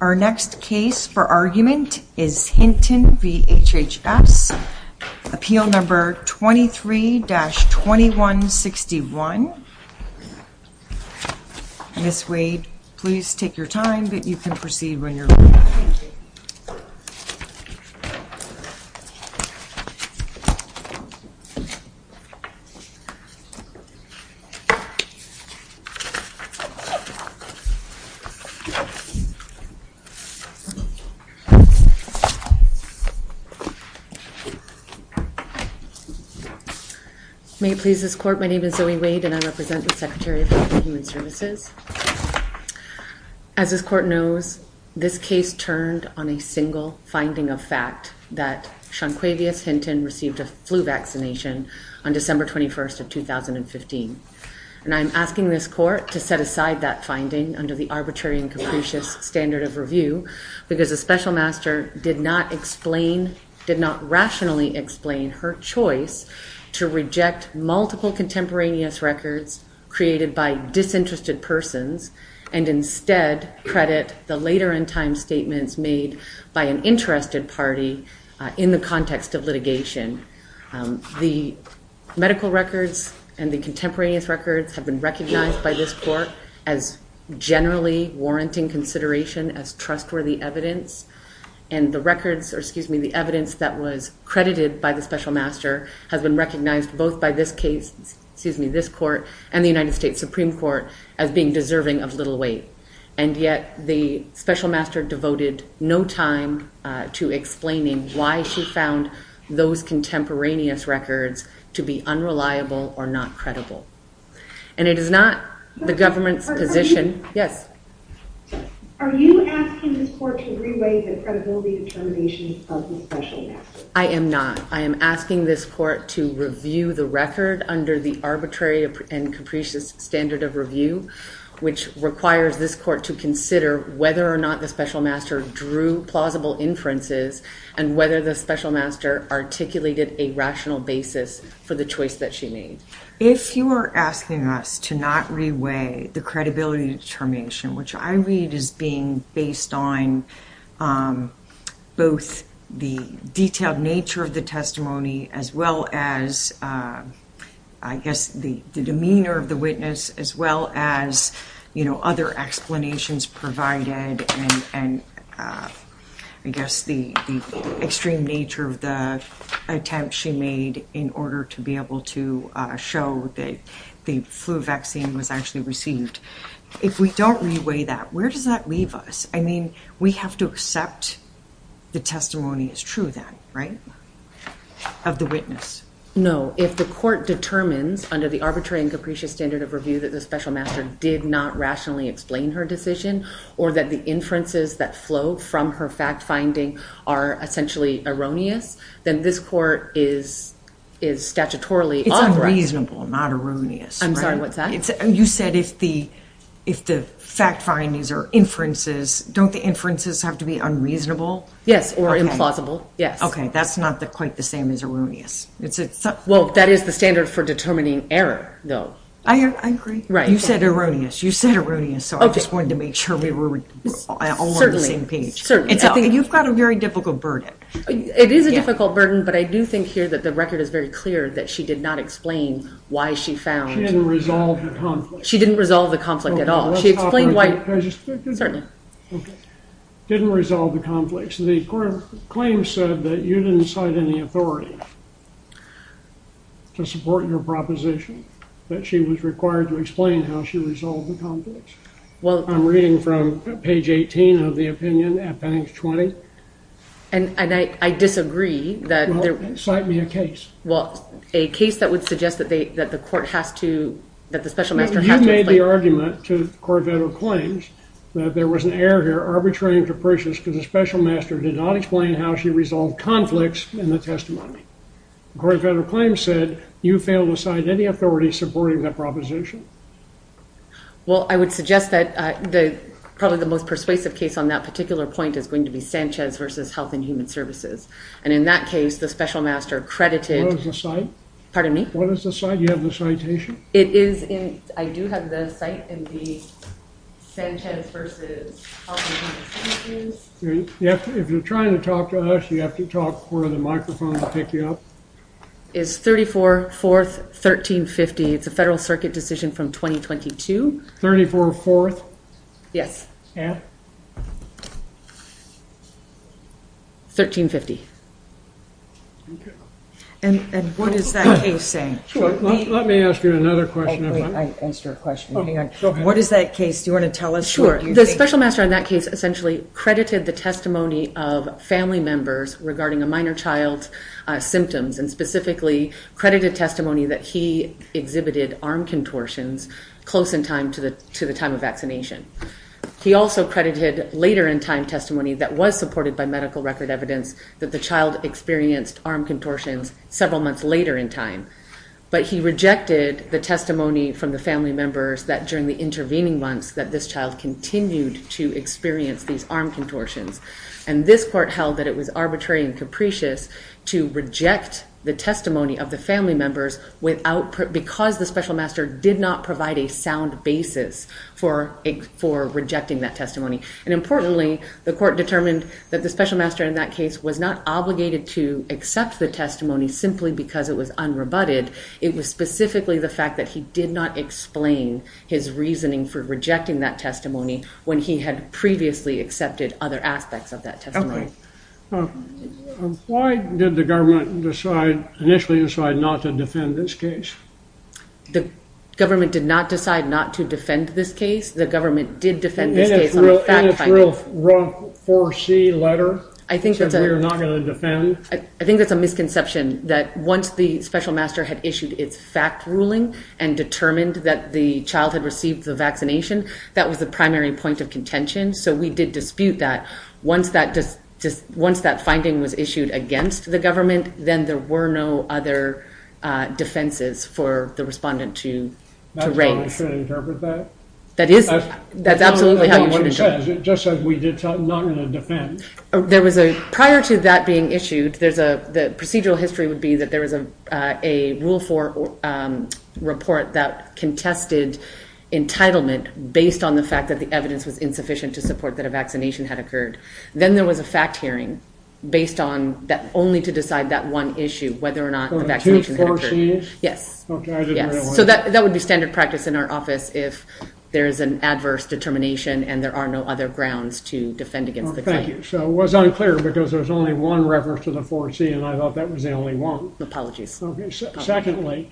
Our next case for argument is Hinton v. HHS, appeal number 23-2161. Ms. Wade, please take your time, but you can proceed when you're ready. Ms. Wade May it please this court, my name is Zoe Wade and I represent the Secretary of Health and Human Services. As this court knows, this case turned on a single finding of fact, that Shonquavia Hinton received a flu vaccination on December 21st of 2015. And I'm asking this court to set aside that finding under the arbitrary and capricious standard of review, because the special master did not explain, did not rationally explain her choice to reject multiple contemporaneous records created by disinterested persons and instead credit the later in time statements made by an interested party in the context of litigation. The medical records and the contemporaneous records have been recognized by this court as generally warranting consideration as trustworthy evidence. And the records, excuse me, the evidence that was credited by the special master has been recognized both by this case, excuse me, this court and the United States Supreme Court as being deserving of little weight. And yet the special master devoted no time to explaining why she found those contemporaneous records to be unreliable or not credible. And it is not the government's position... Are you asking this court to re-weigh the credibility determinations of the special master? I am not. I am asking this court to review the record under the arbitrary and capricious standard of review, which requires this court to consider whether or not the special master drew plausible inferences and whether the special master articulated a rational basis for the choice that she made. If you are asking us to not re-weigh the credibility determination, which I read as being based on both the detailed nature of the testimony as well as, I guess, the demeanor of the witness as well as, you know, other explanations provided and, I guess, the extreme nature of the attempt she made in order to be able to show that the flu vaccine was actually received. If we don't re-weigh that, where does that leave us? I mean, we have to accept the testimony as true then, right? Of the witness. No, if the court determines under the arbitrary and capricious standard of review that the special master did not rationally explain her decision or that the inferences that flow from her fact-finding are essentially erroneous, then this court is statutorily... It's unreasonable, not erroneous. I'm sorry, what's that? You said if the fact-findings are inferences, don't the inferences have to be unreasonable? Yes, or implausible. Okay, that's not quite the same as erroneous. Well, that is the standard for determining error, though. I agree. You said erroneous. You said erroneous, so I just wanted to make sure we were on the same page. You've got a very difficult verdict. It is a difficult verdict, but I do think here that the record is very clear that she did not explain why she found... Didn't resolve the conflict. She didn't resolve the conflict at all. She explained why... Didn't resolve the conflict. So the court claims that you didn't cite any authority to support your proposition, that she was required to explain how she resolved the conflict. Well, I'm reading from page 18 of the opinion at page 20. And I disagree that... Well, cite me a case. Well, a case that would suggest that the court has to... You made the argument to court-vetted claims that there was an error here, arbitrary and capricious, because the special master did not explain how she resolved conflicts in the testimony. Court-vetted claims said you failed to cite any authority supporting that proposition. Well, I would suggest that probably the most persuasive case on that particular point is going to be Sanchez versus Health and Human Services. And in that case, the special master credited... What is the cite? Pardon me? What is the cite? Do you have the citation? It is in... I do have the cite in the Sanchez versus Health and Human Services. If you're trying to talk to us, you have to talk for the microphone to pick you up. It's 34-4-1350. It's a federal circuit decision from 2022. 34-4? Yes. And? 1350. And what does that extend? Let me ask you another question. What is that case? Do you want to tell us? The special master in that case essentially credited the testimony of family members regarding a minor child's symptoms and specifically credited testimony that he exhibited arm contortions close in time to the time of vaccination. He also credited later-in-time testimony that was supported by medical record evidence that the child experienced arm contortions several months later in time. But he rejected the testimony from the family members that during the intervening months that this child continued to experience these arm contortions. And this court held that it was arbitrary and capricious to reject the testimony of the family members because the special master did not provide a sound basis for rejecting that testimony. And importantly, the court determined that the special master in that case was not obligated to accept the testimony simply because it was unrebutted. It was specifically the fact that he did not explain his reasoning for rejecting that testimony when he had previously accepted other aspects of that testimony. Why did the government initially decide not to defend this case? The government did not decide not to defend this case. The government did defend this case on a fact finding. And it's a real wrong foresee letter that we're not going to defend. I think it's a misconception that once the special master had issued its fact ruling and determined that the child had received the vaccination, that was the primary point of contention. So we did dispute that. Once that finding was issued against the government, then there were no other defenses for the respondent to raise. Do you want me to interpret that? That's absolutely how it's going to go. Just as we did, I'm not going to defend. Prior to that being issued, the procedural history would be that there was a Rule 4 report that contested entitlement based on the fact that the evidence was insufficient to support that a vaccination had occurred. Then there was a fact hearing based on only to decide that one issue, whether or not a vaccination had occurred. So that would be standard practice in our office if there's an adverse determination and there are no other grounds to defend against the case. So it was unclear because there's only one reference to the foresee and I thought that was the only one. Apologies. Secondly,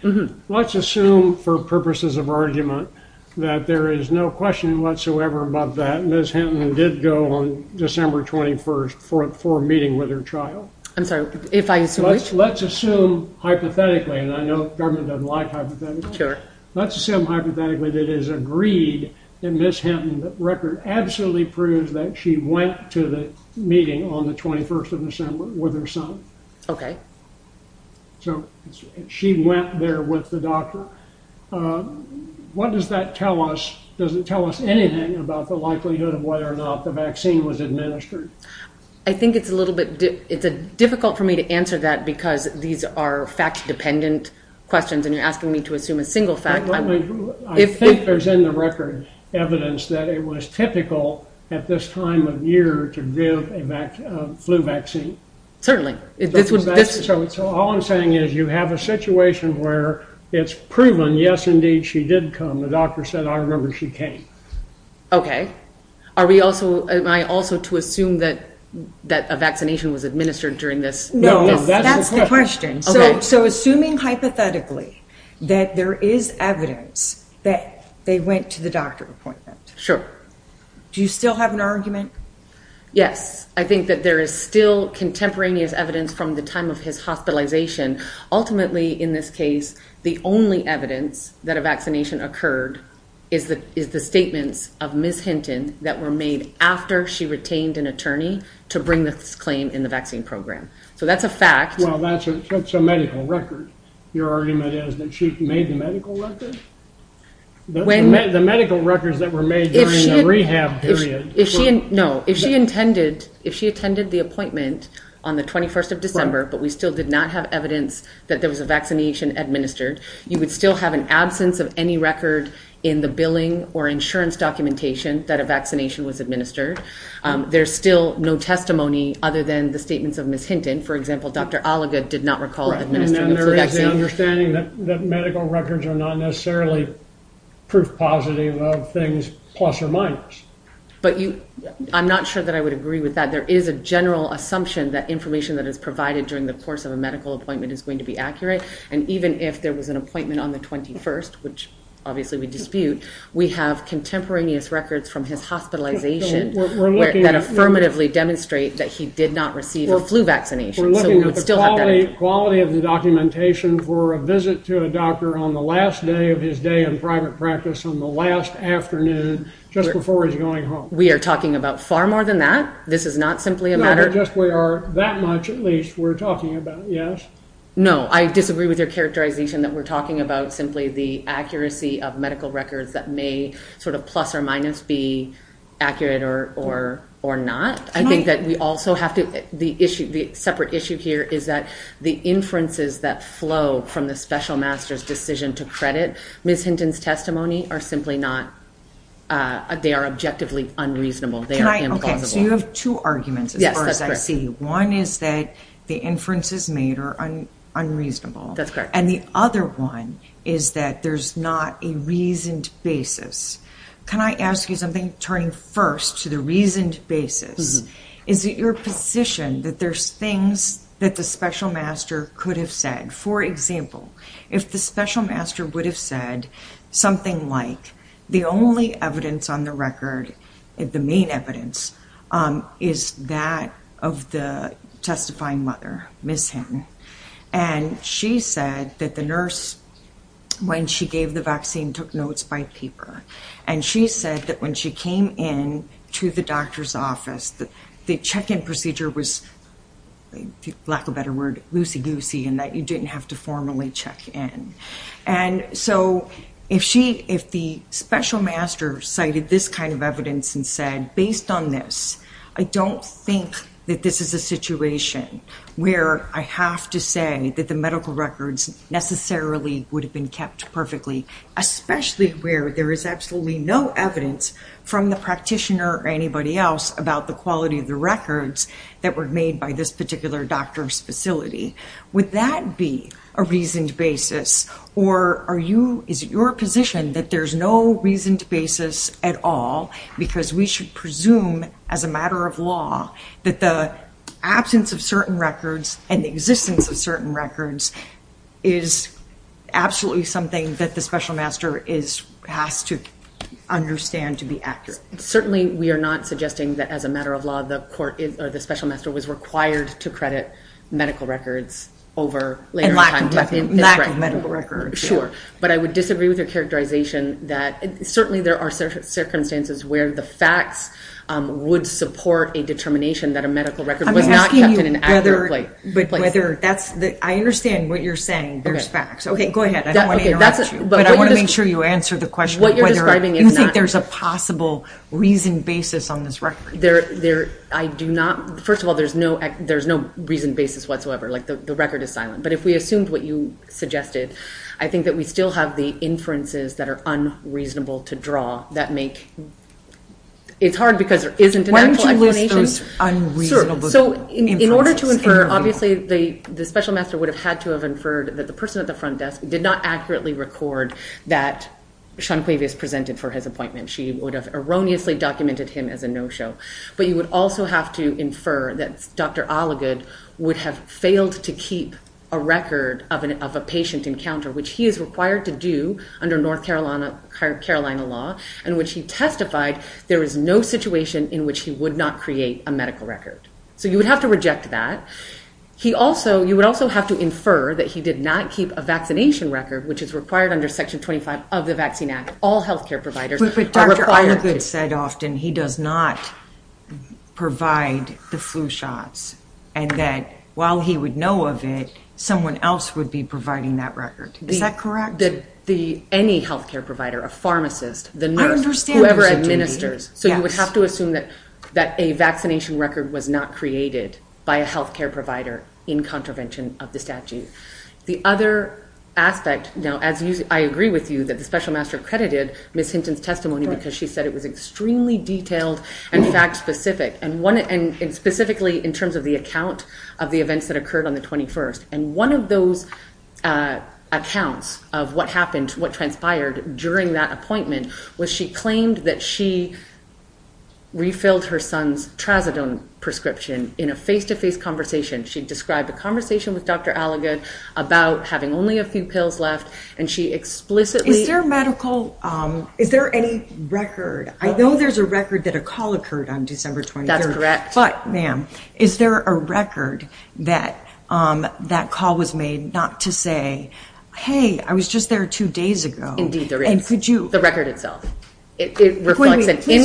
let's assume for purposes of argument that there is no question whatsoever about that. Ms. Hinton did go on December 21st for a meeting with her child. I'm sorry. Let's assume hypothetically, and I know the government doesn't like hypotheticals. Let's assume hypothetically that it is agreed that Ms. Hinton's record absolutely proves that she went to the meeting on the 21st of December with her son. Okay. So she went there with the doctor. What does that tell us? Does it tell us anything about the likelihood of whether or not the vaccine was administered? I think it's a little bit difficult for me to answer that because these are fact-dependent questions and you're asking me to assume a single fact. I think there's in the record evidence that it was typical at this time of year to give a flu vaccine. Certainly. So all I'm saying is you have a situation where it's proven, yes, indeed, she did come. The doctor said, I remember she came. Okay. Am I also to assume that a vaccination was administered during this? No, that's the question. So assuming hypothetically that there is evidence that they went to the doctor for that. Sure. Do you still have an argument? Yes. I think that there is still contemporaneous evidence from the time of his hospitalization. Ultimately, in this case, the only evidence that a vaccination occurred is the statement of Ms. Hinton that were made after she retained an attorney to bring this claim in the vaccine program. So that's a fact. Well, that's a medical record. Your argument is that she made the medical records? The medical records that were made during the rehab period. No. If she attended the appointment on the 21st of December, but we still did not have evidence that there was a vaccination administered, you would still have an absence of any record in the billing or insurance documentation that a vaccination was administered. There's still no testimony other than the statements of Ms. Hinton. For example, Dr. Oliga did not recall. And there is an understanding that medical records are not necessarily proof positive of things plus or minus. I'm not sure that I would agree with that. There is a general assumption that information that is provided during the course of a medical appointment is going to be accurate. And even if there was an appointment on the 21st, which obviously we dispute, we have contemporaneous records from his hospitalization that affirmatively demonstrate that he did not receive a flu vaccination. We're looking at the quality of the documentation for a visit to a doctor on the last day of his day in private practice, on the last afternoon, just before he's going home. We are talking about far more than that. This is not simply a matter of... Not just we are. That much, at least, we're talking about. Yes? No. I disagree with your characterization that we're talking about simply the accuracy of medical records that may sort of plus or minus be accurate or not. I think that we also have to... The separate issue here is that the inferences that flow from the special master's decision to credit Ms. Hinton's testimony are simply not... They are objectively unreasonable. Okay, so you have two arguments as far as I see. Yes, that's correct. One is that the inferences made are unreasonable. That's correct. And the other one is that there's not a reasoned basis. Can I ask you something turning first to the reasoned basis? Is it your position that there's things that the special master could have said? For example, if the special master would have said something like, the only evidence on the record, the main evidence, is that of the testifying mother, Ms. Hinton, and she said that the nurse, when she gave the vaccine, took notes by paper. And she said that when she came in to the doctor's office, the check-in procedure was, for lack of a better word, loosey-goosey in that you didn't have to formally check in. And so, if the special master cited this kind of evidence and said, based on this, I don't think that this is a situation where I have to say that the medical records necessarily would have been kept perfectly. Especially where there is absolutely no evidence from the practitioner or anybody else about the quality of the records that were made by this particular doctor's facility. Would that be a reasoned basis? Or is it your position that there's no reasoned basis at all? Because we should presume, as a matter of law, that the absence of certain records and the existence of certain records is absolutely something that the special master has to understand to be accurate. Certainly, we are not suggesting that, as a matter of law, the special master was required to credit medical records over later time. Lack of medical records. Sure. But I would disagree with the characterization that certainly there are circumstances where the facts would support a determination that a medical record was not kept in an accurate place. I understand what you're saying, there's facts. Okay, go ahead. I don't want to make sure you answer the question of whether I think there's a possible reasoned basis on this record. First of all, there's no reasoned basis whatsoever. The record is silent. But if we assume what you suggested, I think that we still have the inferences that are unreasonable to draw. It's hard because there isn't an actual explanation. Why don't you list those unreasonable inferences? In order to infer, obviously, the special master would have had to have inferred that the person at the front desk did not accurately record that Shantavious presented for his appointment. She would have erroneously documented him as a no-show. But you would also have to infer that Dr. Alligood would have failed to keep a record of a patient encounter, which he is required to do under North Carolina law, and which he testified there was no situation in which he would not create a medical record. So you would have to reject that. You would also have to infer that he did not keep a vaccination record, which is required under Section 25 of the Vaccine Act. Dr. Alligood said, Austin, he does not provide the flu shots. And that while he would know of it, someone else would be providing that record. Is that correct? Any health care provider, a pharmacist, the nurse, whoever administers. So you would have to assume that a vaccination record was not created by a health care provider in contravention of the statute. The other aspect, now I agree with you that the special master credited Ms. Hinton's testimony because she said it was extremely detailed and fact-specific, and specifically in terms of the account of the events that occurred on the 21st. And one of those accounts of what happened, what transpired during that appointment, was she claimed that she refilled her son's Trazodone prescription in a face-to-face conversation. She described a conversation with Dr. Alligood about having only a few pills left, and she explicitly Is there a medical, is there any record? I know there's a record that a call occurred on December 21st. That's correct. But, ma'am, is there a record that that call was made not to say, hey, I was just there two days ago. Indeed there is. And could you The record itself. Please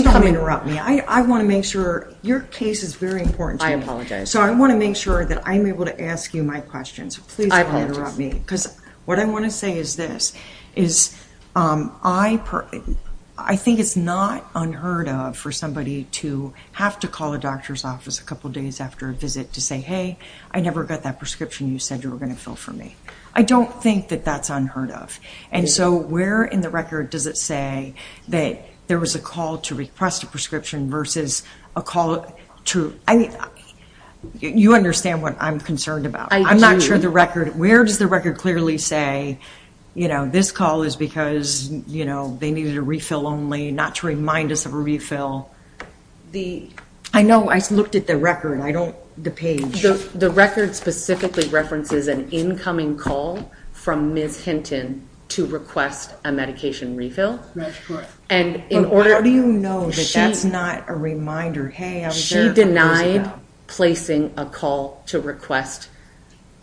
don't interrupt me. I want to make sure. Your case is very important to me. I apologize. So I want to make sure that I'm able to ask you my questions. Please don't interrupt me. Because what I want to say is this, is I think it's not unheard of for somebody to have to call a doctor's office a couple days after a visit to say, hey, I never got that prescription you said you were going to fill for me. I don't think that that's unheard of. And so where in the record does it say that there was a call to request a prescription versus a call to I mean, you understand what I'm concerned about. I do. I'm not sure the record, where does the record clearly say, you know, this call is because, you know, they needed a refill only, not to remind us of a refill. I know. I looked at the record. I don't, the page. The record specifically references an incoming call from Ms. Hinton to request a medication refill. That's correct. And in order How do you know that that's not a reminder? She denied placing a call to request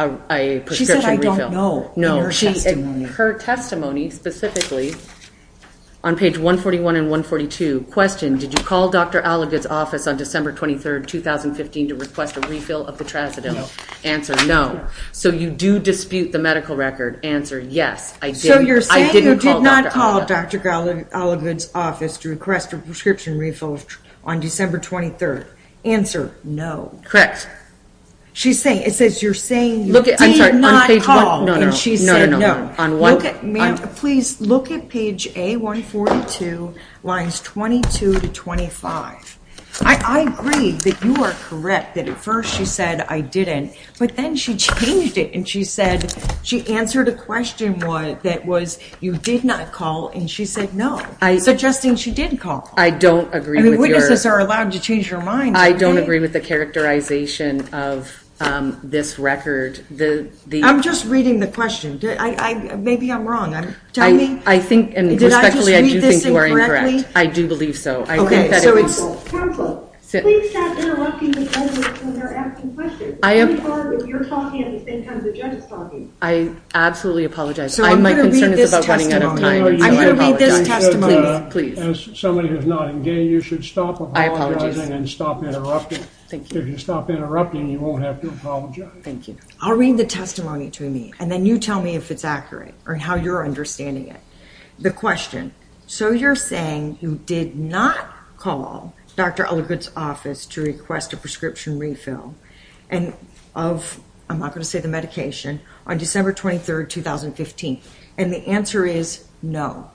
a prescription refill. She said I don't know. No. Her testimony specifically, on page 141 and 142, question, did you call Dr. Oliver's office on December 23rd, 2015 to request a refill of the traciderm? No. Answer, no. So you do dispute the medical record. Answer, yes, I did. So you're saying you did not call Dr. Oliver's office to request a prescription refill on December 23rd. Answer, no. Correct. She's saying, it says you're saying you did not call. She did not call. No, no, no. Please look at page A142, lines 22 to 25. I agree that you are correct that at first she said I didn't, but then she changed it and she said, she answered a question that was, you did not call, and she said no. Suggesting she did call. I don't agree with your Witnesses are allowed to change their mind. I don't agree with the characterization of this record. I'm just reading the question. Maybe I'm wrong. I think, and respectfully, I do think you are incorrect. I do believe so. Careful, careful. Please stop interrupting the evidence when they're asking questions. I am. You're talking in terms of genocide. I absolutely apologize. My concern is about running out of time. I'm going to read this testimony. I'm going to read this testimony. As someone who is not engaged, you should stop apologizing and stop interrupting. If you stop interrupting, you won't have to apologize. Thank you. I'll read the testimony to me, and then you tell me if it's accurate or how you're understanding it. The question, so you're saying you did not call Dr. Ellicott's office to request a prescription refill of, I'm not going to say the medication, on December 23rd, 2015. And the answer is no.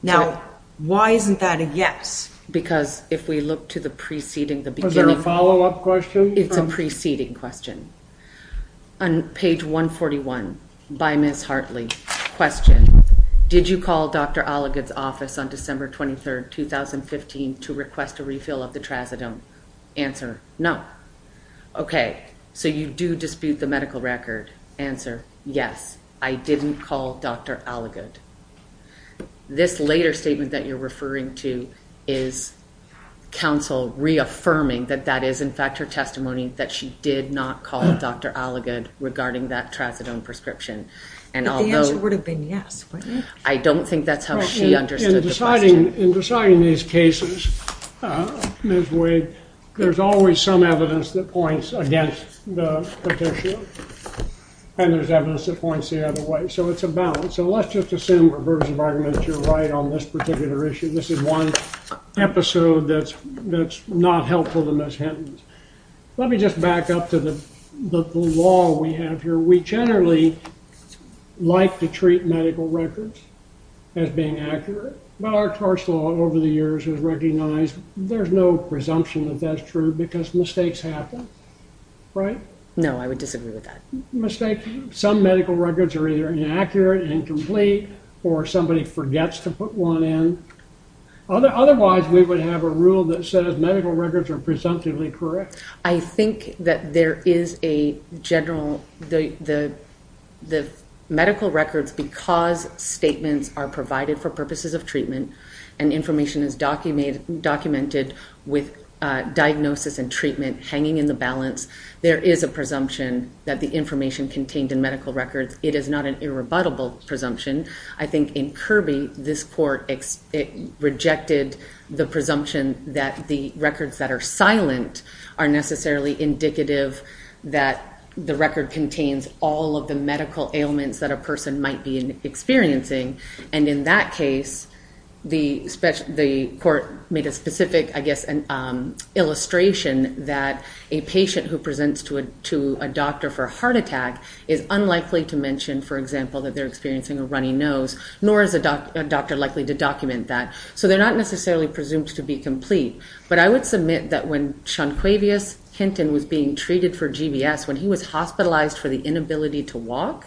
Now, why isn't that a yes? Because if we look to the preceding, the beginning. Is there a follow-up question? It's a preceding question. On page 141 by Ms. Hartley, question, did you call Dr. Ellicott's office on December 23rd, 2015 to request a refill of the trazodone? Answer, no. Okay, so you do dispute the medical record. Answer, yes, I didn't call Dr. Ellicott. This later statement that you're referring to is counsel reaffirming that that is, in fact, her testimony, that she did not call Dr. Ellicott regarding that trazodone prescription. But the answer would have been yes, wouldn't it? I don't think that's how she understood it. In deciding these cases, Ms. Wade, there's always some evidence that points against the petitioner. And there's evidence that points the other way. So it's a balance. So let's just assume, reverse of argument, you're right on this particular issue. This is one episode that's not helpful to Ms. Hinton. Let me just back up to the law we have here. We generally like to treat medical records as being accurate. Our course law over the years has recognized there's no presumption that that's true because mistakes happen, right? No, I would disagree with that. Some medical records are either inaccurate, incomplete, or somebody forgets to put one in. Otherwise, we would have a rule that says medical records are presumptively correct. I think that there is a general, the medical records, because statements are provided for purposes of treatment and information is documented with diagnosis and treatment hanging in the balance, there is a presumption that the information contained in medical records. It is not an irrebuttable presumption. I think in Kirby, this court rejected the presumption that the records that are silent are necessarily indicative that the record contains all of the medical ailments that a person might be experiencing. And in that case, the court made a specific, I guess, illustration that a patient who presents to a doctor for a heart attack is unlikely to mention, for example, that they're experiencing a runny nose, nor is a doctor likely to document that. So they're not necessarily presumed to be complete. But I would submit that when Shonquavius Hinton was being treated for GBS, when he was hospitalized for the inability to walk,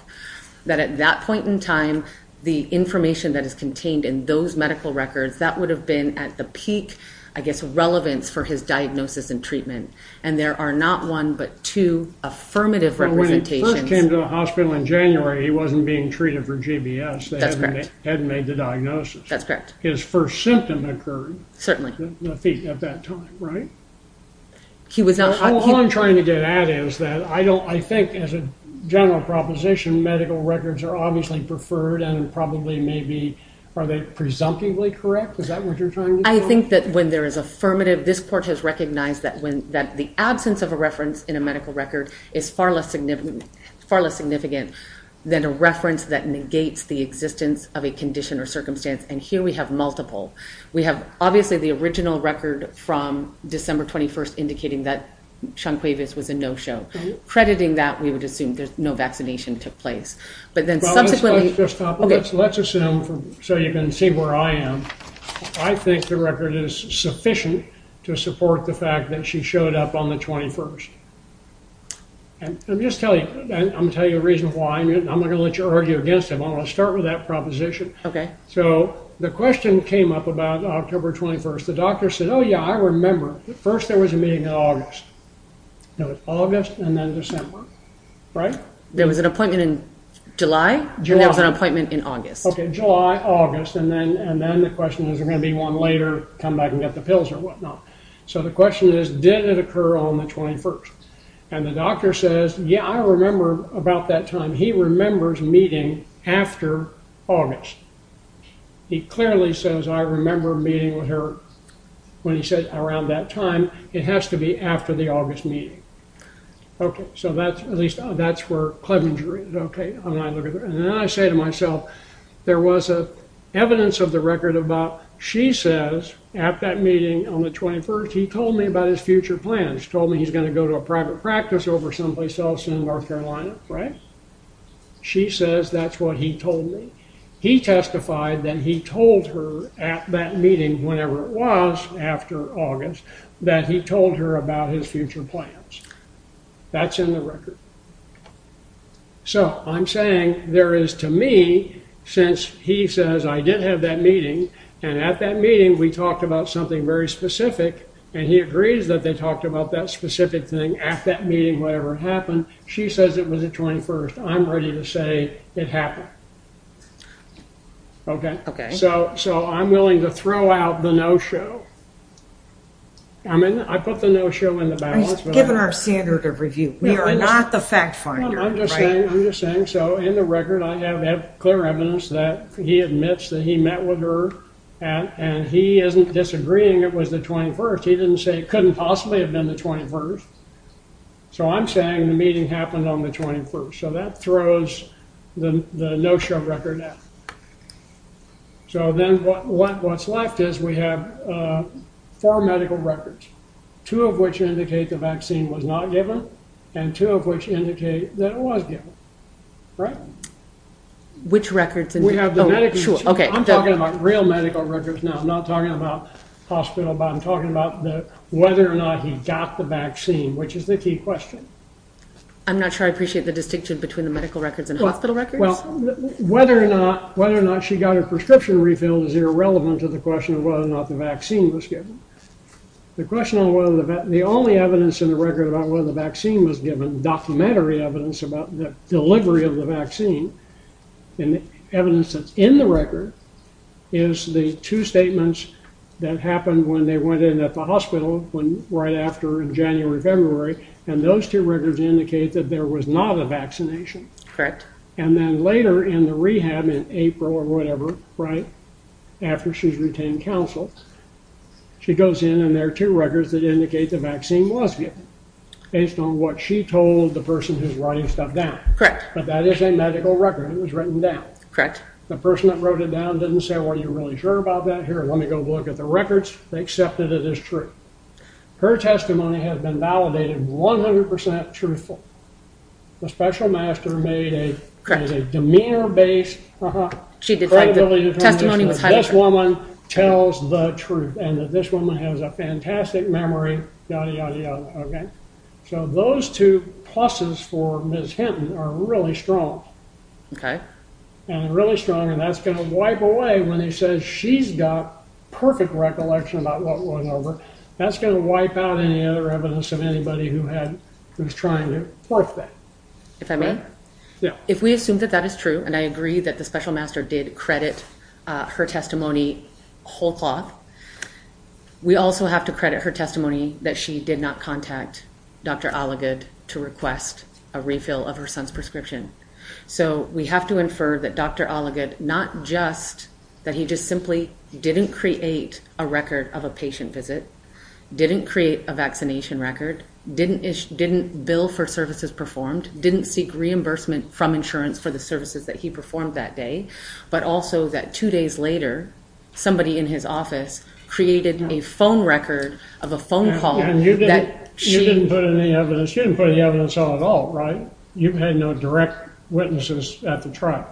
that at that point in time, the information that is contained in those medical records, that would have been at the peak, I guess, relevant for his diagnosis and treatment. And there are not one but two affirmative representations. Well, when he came to the hospital in January, he wasn't being treated for GBS. That's correct. They hadn't made the diagnosis. That's correct. His first symptom occurred. Certainly. At that time, right? All I'm trying to get at is that I think, as a general proposition, medical records are obviously preferred and probably maybe, are they presumptively correct? Is that what you're trying to say? I think that when there is affirmative, this court has recognized that the absence of a reference in a medical record is far less significant than a reference that negates the existence of a condition or circumstance. And here we have multiple. We have obviously the original record from December 21st indicating that Shonquavius was a no-show. Crediting that, we would assume that no vaccination took place. Let's assume so you can see where I am. I think the record is sufficient to support the fact that she showed up on the 21st. And I'm going to tell you the reason why. I'm not going to let you argue against it. I'm going to start with that proposition. So the question came up about October 21st. The doctor said, oh, yeah, I remember. First there was a meeting in August. It was August and then December, right? There was an appointment in July. There was an appointment in August. July, August. And then the question is, is there going to be one later to come back and get the pills or whatnot? So the question is, did it occur on the 21st? And the doctor says, yeah, I remember about that time. He remembers meeting after August. He clearly says, I remember meeting with her when he says around that time. It has to be after the August meeting. So that's where Clevenger is. And then I say to myself, there was evidence of the record about, she says at that meeting on the 21st, he told me about his future plans. He told me he's going to go to a private practice over someplace else in North Carolina, right? She says that's what he told me. He testified that he told her at that meeting, whenever it was, after August, that he told her about his future plans. That's in the record. So I'm saying there is, to me, since he says I didn't have that meeting, and at that meeting we talked about something very specific, and he agrees that they talked about that specific thing at that meeting, whatever happened. She says it was the 21st. I'm ready to say it happened. Okay? So I'm willing to throw out the no show. I put the no show in the balance. Given our standard of review, we are not the fact finder. I'm just saying. So in the record, I have clear evidence that he admits that he met with her, and he isn't disagreeing it was the 21st. He didn't say it couldn't possibly have been the 21st. So I'm saying the meeting happened on the 21st. So that throws the no show record out. So then what's left is we have four medical records, two of which indicate the vaccine was not given, and two of which indicate that it was given. Right? Which records? We have the medical records. I'm talking about real medical records now. I'm not talking about hospital, but I'm talking about whether or not he got the vaccine, which is the key question. I'm not sure I appreciate the distinction between the medical records and hospital records. Well, whether or not she got her prescription refilled is irrelevant to the question of whether or not the vaccine was given. The only evidence in the record about whether the vaccine was given, documentary evidence about the delivery of the vaccine, and evidence that's in the record, is the two statements that happened when they went in at the hospital, right after in January, February, and those two records indicate that there was not a vaccination. Correct. And then later in the rehab in April or whatever, right, after she's retained counsel, she goes in and there are two records that indicate the vaccine was given, based on what she told the person who's writing stuff down. Correct. But that is a medical record, and it was written down. Correct. The person that wrote it down didn't say, well, are you really sure about that here? Let me go look at the records. They accepted it as true. Her testimony has been validated 100% truthful. The special master made a demeanor-based credibility assessment that this woman tells the truth, and that this woman has a fantastic memory, yada, yada, yada, okay? So those two pluses for Ms. Hinton are really strong. Okay. And really strong, and that's going to wipe away when he says she's got perfect recollection about what went over. That's going to wipe out any other evidence of anybody who's trying to work that. If I may? Yeah. If we assume that that is true, and I agree that the special master did credit her testimony whole-heartedly, we also have to credit her testimony that she did not contact Dr. Oligod to request a refill of her son's prescription. So we have to infer that Dr. Oligod not just that he just simply didn't create a record of a patient visit, didn't create a vaccination record, didn't bill for services performed, didn't seek reimbursement from insurance for the services that he performed that day, but also that two days later, somebody in his office created a phone record of a phone call. You didn't put any evidence. You didn't put any evidence at all, right? No. You had no direct witnesses at the trial.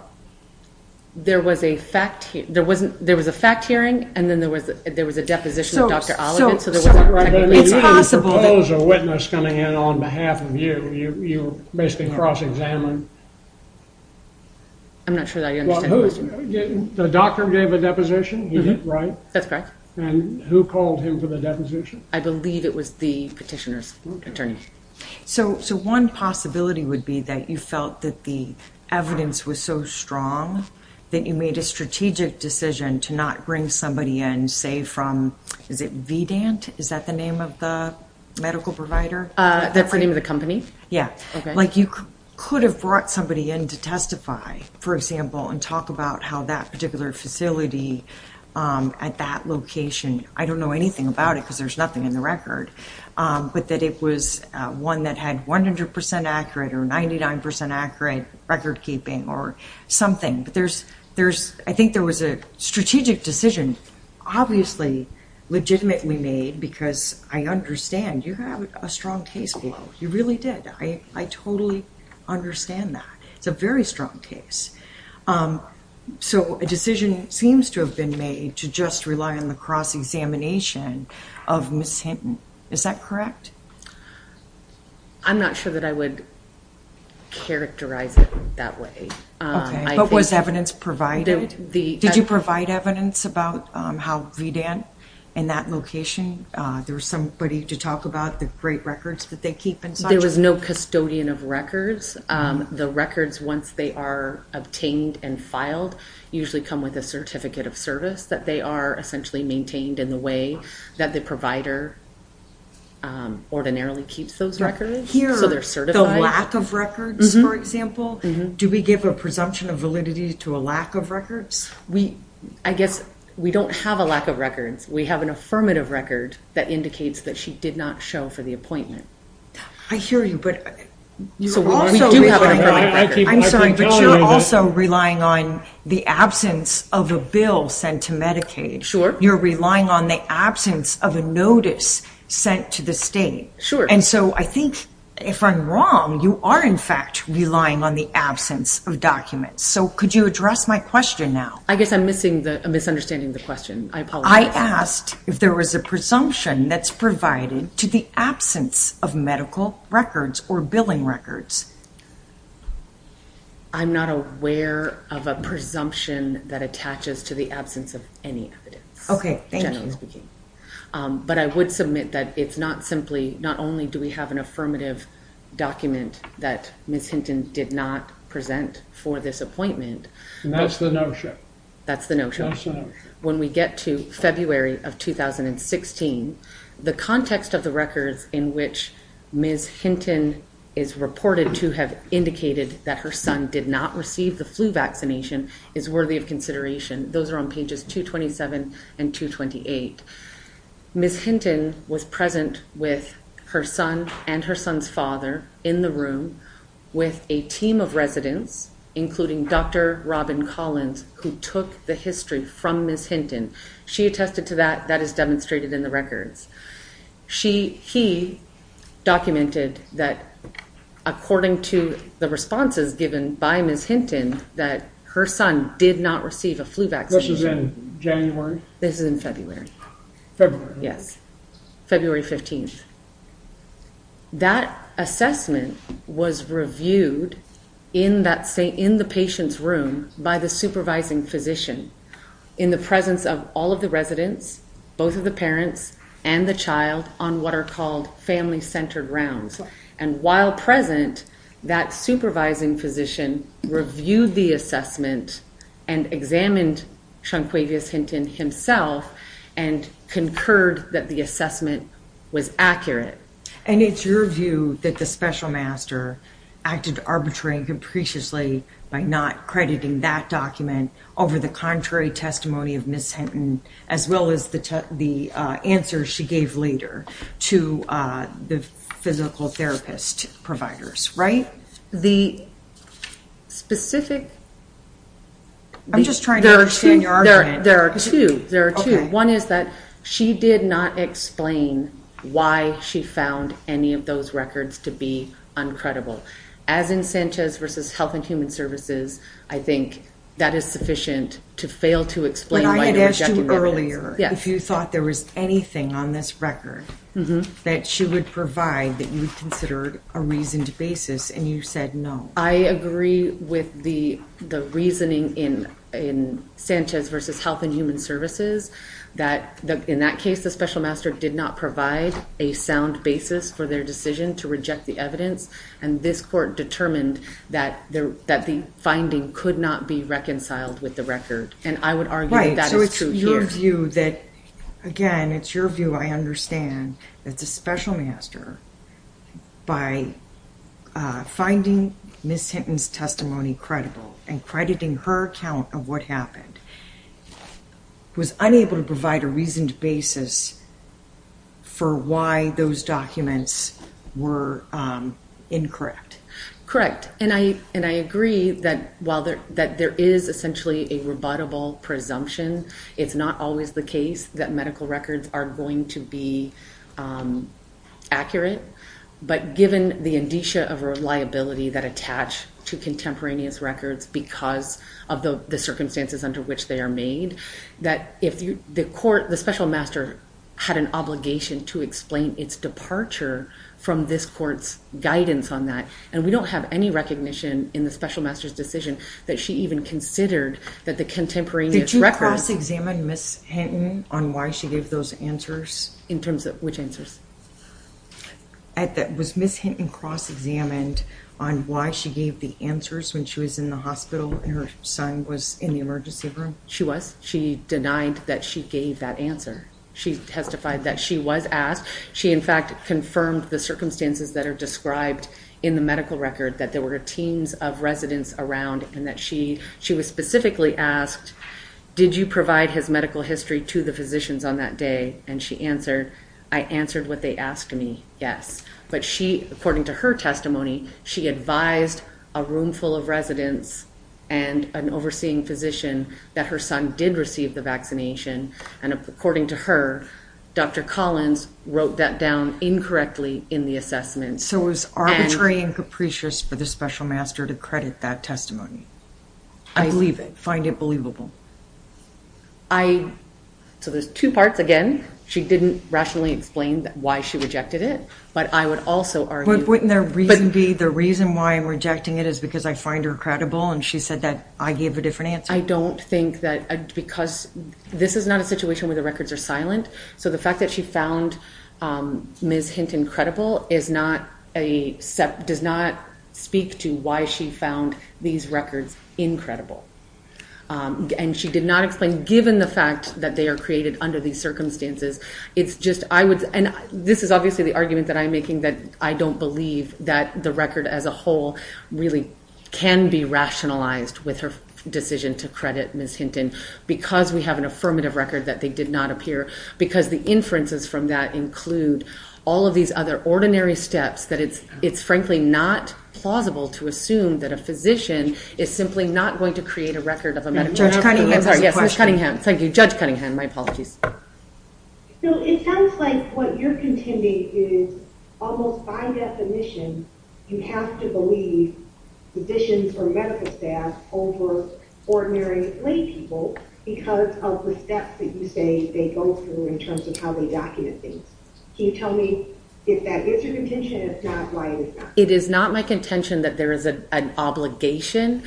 There was a fact hearing, and then there was a deposition of Dr. Oligod. So there was a fact hearing. So you didn't propose a witness coming in on behalf of you. You basically cross-examined. I'm not sure that I understand that. The doctor gave a deposition. He did, right? That's right. And who called him for the deposition? I believe it was the petitioner's attorney. So one possibility would be that you felt that the evidence was so strong that you made a strategic decision to not bring somebody in, say, from, is it VDANT? Is that the name of the medical provider? They're pretty much a company. Yeah. Like you could have brought somebody in to testify, for example, and talk about how that particular facility at that location, I don't know anything about it because there's nothing in the record, but that it was one that had 100% accurate or 99% accurate record keeping or something. I think there was a strategic decision, obviously legitimately made, because I understand you have a strong case for this. You really did. I totally understand that. It's a very strong case. So a decision seems to have been made to just rely on the cross-examination of Ms. Hampton. Is that correct? I'm not sure that I would characterize it that way. Okay. But was evidence provided? Did you provide evidence about how VDANT, in that location, there was somebody to talk about the great records that they keep? There was no custodian of records. The records, once they are obtained and filed, usually come with a certificate of service that they are essentially maintained in the way that the provider ordinarily keeps those records. So lack of records, for example? Do we give a presumption of validity to a lack of records? I guess we don't have a lack of records. We have an affirmative record that indicates that she did not show for the appointment. I hear you. You're also relying on the absence of a bill sent to Medicaid. You're relying on the absence of a notice sent to the state. And so I think, if I'm wrong, you are in fact relying on the absence of documents. So could you address my question now? I guess I'm misunderstanding the question. I apologize. I asked if there was a presumption that's provided to the absence of medical records or billing records. I'm not aware of a presumption that attaches to the absence of any evidence. Okay. Thank you. But I would submit that it's not simply, not only do we have an affirmative document that Ms. Hinton did not present for this appointment. That's the notion. That's the notion. When we get to February of 2016, the context of the records in which Ms. Hinton is reported to have indicated that her son did not receive the flu vaccination is worthy of consideration. Those are on pages 227 and 228. Ms. Hinton was present with her son and her son's father in the room with a team of residents, including Dr. Robin Collins, who took the history from Ms. Hinton. She attested to that. That is demonstrated in the records. He documented that according to the responses given by Ms. Hinton, that her son did not receive a flu vaccine. This is in January? This is in February. February. Yes. February 15th. That assessment was reviewed in the patient's room by the supervising physician in the presence of all of the residents, both of the parents and the child, on what are called family-centered rounds. While present, that supervising physician reviewed the assessment and examined Shunquavious Hinton himself and concurred that the assessment was accurate. It's your view that the special master acted arbitrarily and maliciously by not crediting that document over the contrary testimony of Ms. Hinton as well as the answer she gave later to the physical therapist providers, right? The specific ‑‑ I'm just trying to understand your argument. There are two. One is that she did not explain why she found any of those records to be uncredible. As in SANCHEZ versus Health and Human Services, I think that is sufficient to fail to explain why. I asked you earlier if you thought there was anything on this record that she would provide that you considered a reasoned basis and you said no. I agree with the reasoning in SANCHEZ versus Health and Human Services that in that case the special master did not provide a sound basis for their decision to reject the evidence and this court determined that the finding could not be reconciled with the record. I would argue that is true, too. It's your view that, again, it's your view I understand that the special master, by finding Ms. Hinton's testimony credible and crediting her account of what happened, was unable to provide a reasoned basis for why those documents were incorrect. Correct. I agree that while there is essentially a rebuttable presumption, it's not always the case that medical records are going to be accurate. But given the indicia of reliability that attach to contemporaneous records because of the circumstances under which they are made, that the special master had an obligation to explain its departure from this court's guidance on that and we don't have any recognition in the special master's decision that she even considered that the contemporaneous records... Did you cross-examine Ms. Hinton on why she gave those answers? In terms of which answers? Was Ms. Hinton cross-examined on why she gave the answers when she was in the hospital and her son was in the emergency room? She was. She denied that she gave that answer. She testified that she was asked. She, in fact, confirmed the circumstances that are described in the medical record that there were teams of residents around and that she was specifically asked, did you provide his medical history to the physicians on that day? And she answered, I answered what they asked me, yes. But she, according to her testimony, she advised a room full of residents and an overseeing physician that her son did receive the vaccination. And according to her, Dr. Collins wrote that down incorrectly in the assessment. So it was arbitrary and capricious for the special master to credit that I believe it. Find it believable? I... So there's two parts, again. She didn't rationally explain why she rejected it. But I would also argue... The reason why I'm rejecting it is because I find her credible and she said that I gave a different answer. I don't think that, because this is not a situation where the records are So the fact that she found Ms. Hinton credible is not a, does not speak to why she found these records incredible. And she did not explain, given the fact that they are created under these circumstances, it's just, I would, and this is obviously the argument that I'm I don't believe that the record as a whole really can be rationalized with her decision to credit Ms. Hinton because we have an affirmative record that they did not appear. Because the inferences from that include all of these other ordinary steps that it's frankly not plausible to assume that a physician is simply not going to create a record of a medical record. Judge Cunningham. Thank you. Judge Cunningham. My apologies. So it sounds like what you're contending is almost by definition you have to believe physicians or medical staff over ordinary lay people because of the steps that you say they go through in terms of how they document things. Can you tell me if that is your contention and if not, why is that? It is not my contention that there is an obligation.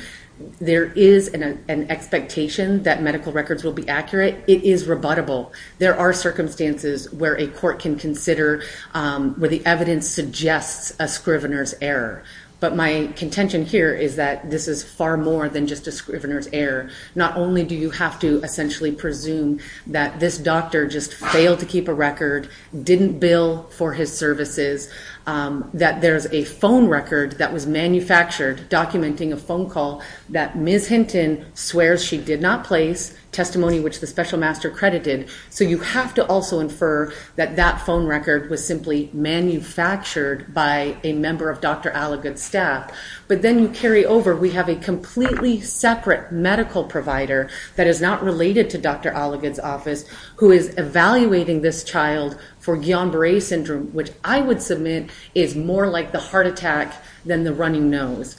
There is an expectation that medical records will be accurate. It is rebuttable. There are circumstances where a court can consider where the evidence suggests a scrivener's error. But my contention here is that this is far more than just a scrivener's error. Not only do you have to essentially presume that this doctor just failed to keep a record, didn't bill for his services, that there's a phone record that was manufactured documenting a phone call that Ms. Hinton swears she did not place, testimony which the special master credited. So you have to also infer that that phone record was simply manufactured by a member of Dr. Alligood's staff. But then you carry over, we have a completely separate medical provider that is not related to Dr. Alligood's office who is evaluating this child for Guillain-Barre Syndrome, which I would submit is more like the heart attack than the running nose.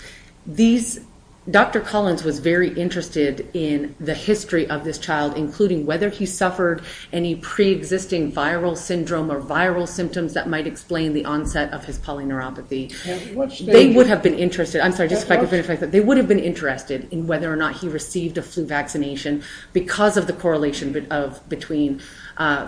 Dr. Collins was very interested in the history of this child, including whether he suffered any pre-existing viral syndrome or viral symptoms that might explain the onset of his polyneuropathy. They would have been interested, I'm sorry, just to clarify, they would have been interested in whether or not he received a flu vaccination because of the correlation between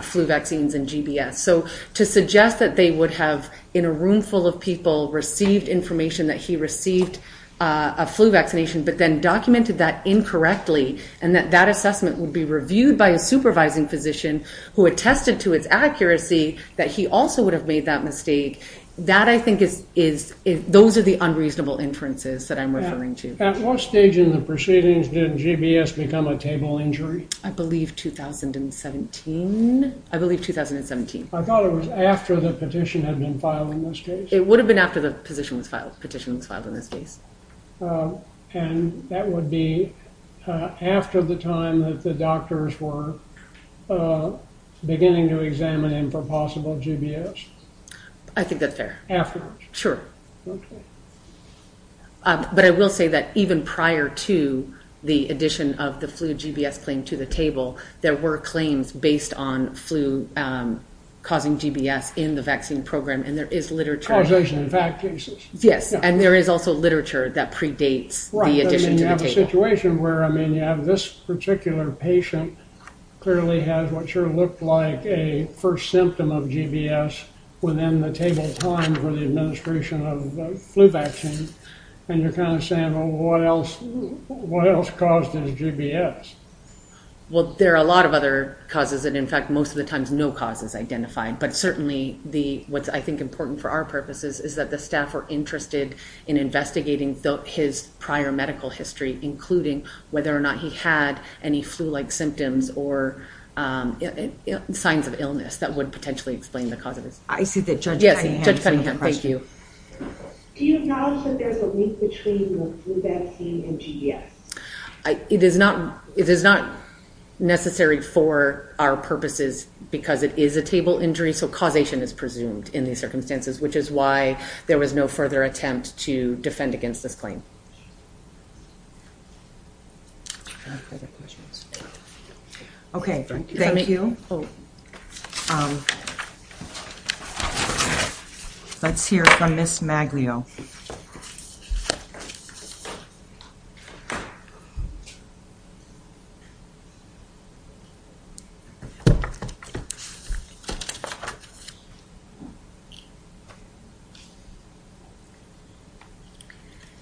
flu vaccines and GBS. So to suggest that they would have, in a room full of people, received information that he received a flu vaccination but then documented that incorrectly and that that assessment would be reviewed by a supervising physician who attested to his accuracy that he also would have made that mistake, that I think is, those are the unreasonable inferences that I'm referring to. At what stage in the proceedings did GBS become a table injury? I believe 2017. I believe 2017. I thought it was after the petition had been filed in this case. It would have been after the petition was filed in this case. And that would be after the time that the doctors were beginning to examine him for possible GBS? I think that's fair. Afterwards? Sure. Okay. But I will say that even prior to the addition of the flu GBS claim to the table, there were claims based on flu causing GBS in the vaccine program and there is literature. And there is also literature that predates the addition. You have a situation where, I mean, you have this particular patient clearly has what sort of looked like a first symptom of GBS within the table time for the administration of the flu vaccine and you're kind of saying, well, what else caused the GBS? Well, there are a lot of other causes and, in fact, most of the times no cause was identified. But certainly what's, I think, important for our purposes is that the staff were interested in investigating his prior medical history, including whether or not he had any flu-like symptoms or signs of illness that would potentially explain the cause of it. I see that. Judge Cunningham. Thank you. Do you acknowledge that there's a link between the flu vaccine and GBS? It is not necessary for our purposes because it is a table injury, so causation is presumed in these circumstances, which is why there was no further attempt to defend against this claim. Okay. Thank you. Let's hear from Ms. Maglio.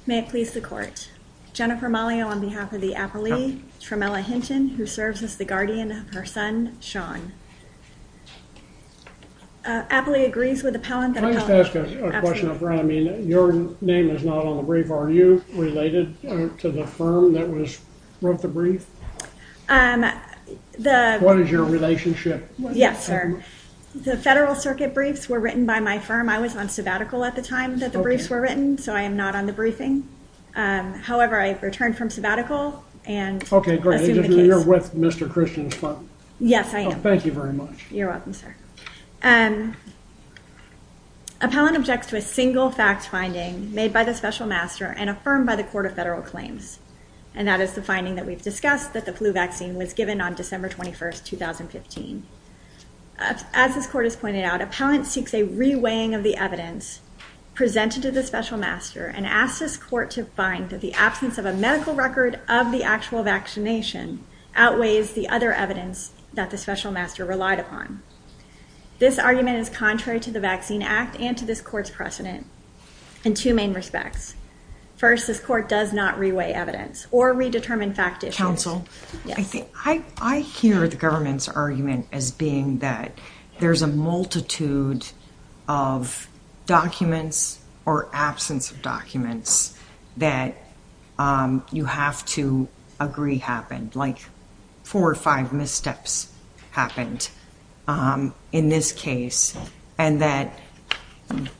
May it please the court. Jennifer Maglio on behalf of the appellee, Tramella Hinton, who serves with the guardian of her son, Sean. Appellee agrees with the power of the college. Let me ask a question, if I may. Your name is not on the brief. Are you related to the firm? What is your relationship? Yes, sir. The federal circuit briefs were written by my firm. I was on sabbatical at the time that the briefs were written, so I am not on the briefing. However, I have returned from sabbatical. Okay, great. You're with Mr. Christian's firm. Yes, I am. Thank you very much. You're welcome, sir. Appellant objects to a single fact finding made by the special master and was confirmed by the court of federal claims. And that is the finding that we've discussed, that the flu vaccine was given on December 21st, 2015. As this court has pointed out, appellant seeks a reweighing of the evidence presented to the special master and asks this court to find that the absence of a medical record of the actual vaccination outweighs the other evidence that the special master relied upon. This argument is contrary to the Vaccine Act and to this court's precedent in two main respects. First, this court does not reweigh evidence or redetermine fact issues. Counsel? Yes. I hear the government's argument as being that there's a multitude of documents or absence of documents that you have to agree happened, like four or five missteps happened in this case. And that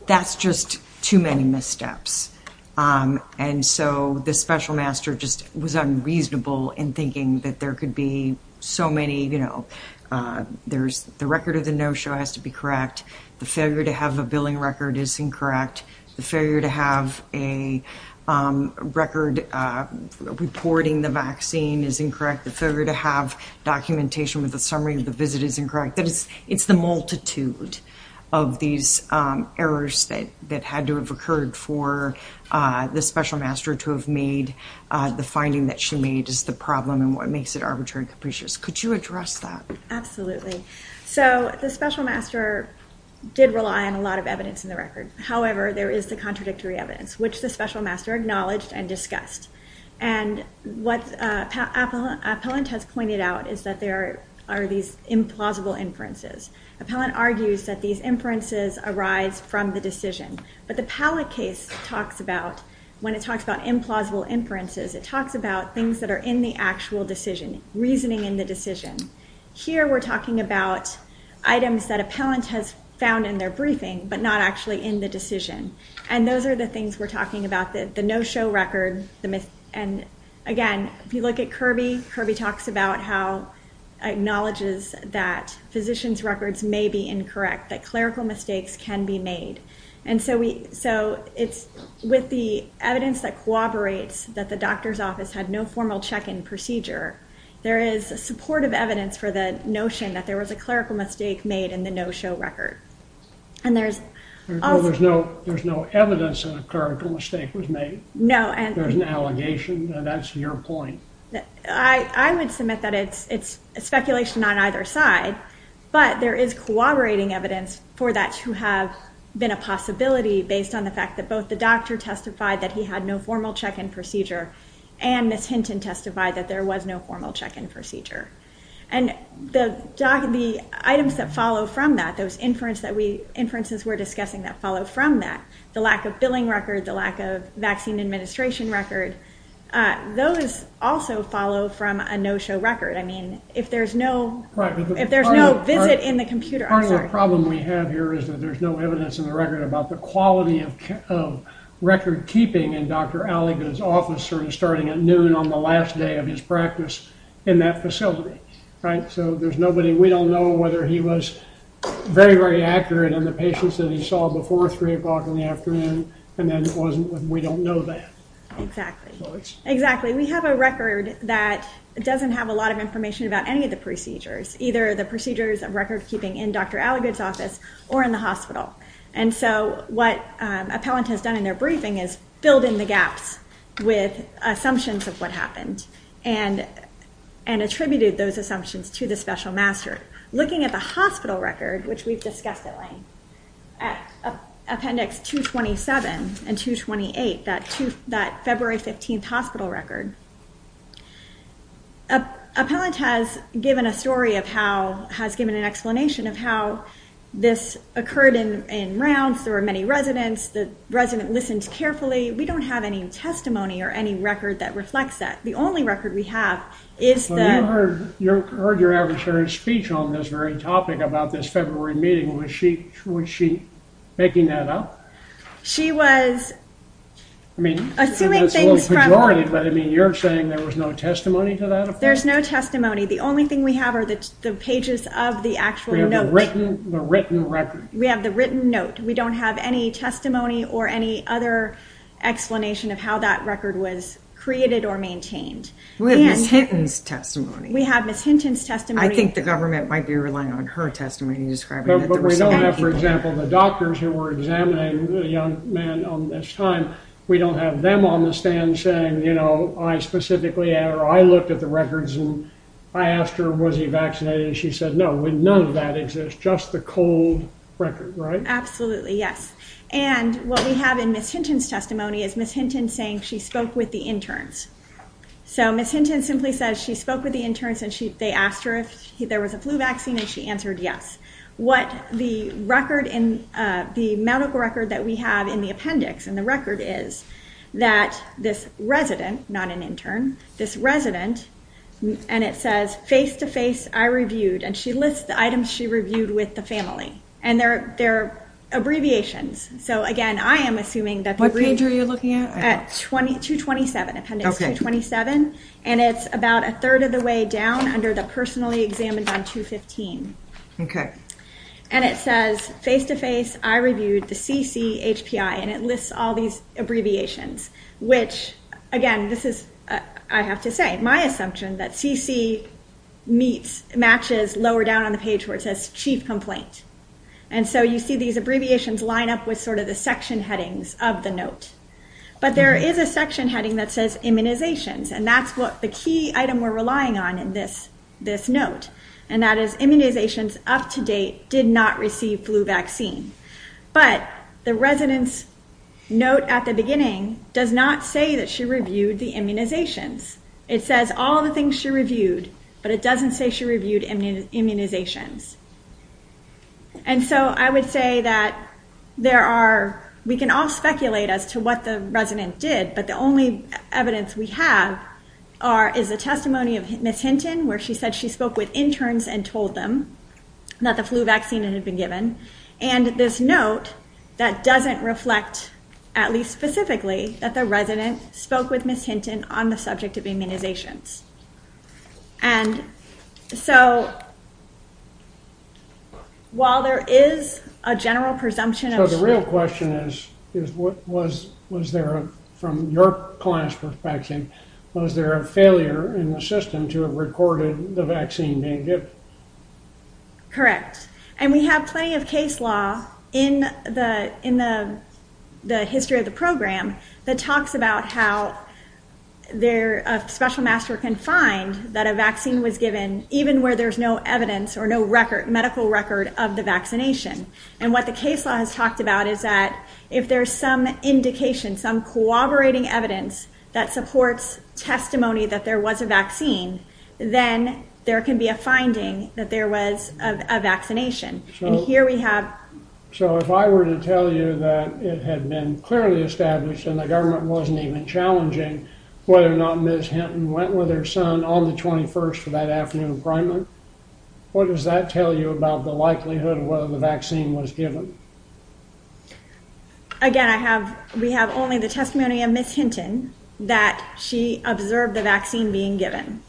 that's just too many missteps. And so the special master just was unreasonable in thinking that there could be so many, you know, there's the record of the no-show has to be correct. The failure to have a billing record is incorrect. The failure to have a record reporting the vaccine is incorrect. The failure to have documentation with a summary of the visit is incorrect. It's the multitude of these errors that had to have occurred for the special master to have made the finding that she made is the problem and what makes it arbitrary and capricious. Could you address that? Absolutely. So the special master did rely on a lot of evidence in the record. However, there is the contradictory evidence, which the special master acknowledged and discussed. And what Appellant has pointed out is that there are these implausible inferences. Appellant argues that these inferences arise from the decision. But the Powell case talks about, when it talks about implausible inferences, it talks about things that are in the actual decision, reasoning in the decision. Here we're talking about items that Appellant has found in their briefing but not actually in the decision. And those are the things we're talking about, the no-show record. And, again, if you look at Kirby, Kirby talks about how he acknowledges that physicians' records may be incorrect, that clerical mistakes can be made. And so with the evidence that corroborates that the doctor's office had no formal check-in procedure, there is supportive evidence for the notion that there was a clerical mistake made in the no-show record. There's no evidence that a clerical mistake was made. No. There's an allegation. That's your point. I would submit that it's speculation on either side. But there is corroborating evidence for that to have been a possibility based on the fact that both the doctor testified that he had no formal check-in procedure and the tenant testified that there was no formal check-in procedure. And the items that follow from that, those inferences that we're discussing that follow from that, the lack of billing records, the lack of vaccine administration records, those also follow from a no-show record. I mean, if there's no visit in the computer, I'm sorry. Part of the problem we have here is that there's no evidence in the record about the quality of record-keeping in Dr. Allegan's office starting at noon on the last day of his practice in that facility, right? So there's nobody. We don't know whether he was very, very accurate in the patients that he saw before 3 o'clock in the afternoon, and then it wasn't. We don't know that. Exactly. Exactly. We have a record that doesn't have a lot of information about any of the procedures, either the procedures of record-keeping in Dr. Allegan's office or in the hospital. And so what appellant has done in their briefing is filled in the gaps with assumptions of what happened and attributed those assumptions to the special master. Looking at the hospital record, which we've discussed today, Appendix 227 and 228, that February 15th hospital record, appellant has given a story of how, has given an explanation of how this occurred in rounds. There were many residents. The resident listened carefully. We don't have any testimony or any record that reflects that. The only record we have is the... Well, you heard your adversary's speech on this very topic about this February meeting. Was she making that up? She was... I mean, it was a little pejorative, but I mean, you're saying there was no testimony to that, of course? There's no testimony. The only thing we have are the pages of the actual notes. We have the written record. We have the written note. We don't have any testimony or any other explanation of how that record was created or maintained. We have Ms. Hinton's testimony. We have Ms. Hinton's testimony. I think the government might be relying on her testimony to describe... But we don't have, for example, the doctors who were examining the young man on this time. We don't have them on the stand saying, you know, I specifically, I looked at the records and I asked her, was he vaccinated? She said, no. None of that exists. Just the cold record, right? Absolutely, yes. And what we have in Ms. Hinton's testimony is Ms. Hinton saying she spoke with the interns. So Ms. Hinton simply says she spoke with the interns and they asked her if there was a flu vaccine and she answered yes. What the record in the medical record that we have in the appendix in the record is that this resident, not an intern, this resident, and it says, face-to-face, I reviewed, and she lists the items she reviewed with the family. And they're abbreviations. So, again, I am assuming that... What page are you looking at? 227, appendix 227. And it's about a third of the way down under the personally examined on 215. Okay. And it says, face-to-face, I reviewed the CCHPI, and it lists all these abbreviations, which, again, this is, I have to say, my assumption that CC matches lower down on the page where it says chief complaint. And so you see these abbreviations line up with sort of the section headings of the note. But there is a section heading that says immunizations, and that's the key item we're relying on in this note, and that is immunizations up to date did not receive flu vaccine. But the resident's note at the beginning does not say that she reviewed the immunizations. It says all the things she reviewed, but it doesn't say she reviewed immunizations. And so I would say that there are... We can all speculate as to what the resident did, but the only evidence we have is the testimony of Ms. Hinton, where she said she spoke with interns and told them that the flu vaccine had been given. And this note, that doesn't reflect, at least specifically, that the resident spoke with Ms. Hinton on the subject of immunizations. And so while there is a general presumption of... So the real question is, was there, from your client's perspective, was there a failure in the system to have recorded the vaccine being given? Correct. And we have plenty of case law in the history of the program that talks about how a special master can find that a vaccine was given even where there's no evidence or no medical record of the vaccination. And what the case law has talked about is that if there's some indication, some corroborating evidence that supports testimony that there was a vaccine, then there can be a finding that there was a vaccination. And here we have... So if I were to tell you that it had been clearly established and the government wasn't even challenging whether or not Ms. Hinton went with her son on the 21st for that afternoon appointment, what does that tell you about the likelihood of whether the vaccine was given? Again, we have only the testimony of Ms. Hinton that she observed the vaccine being given.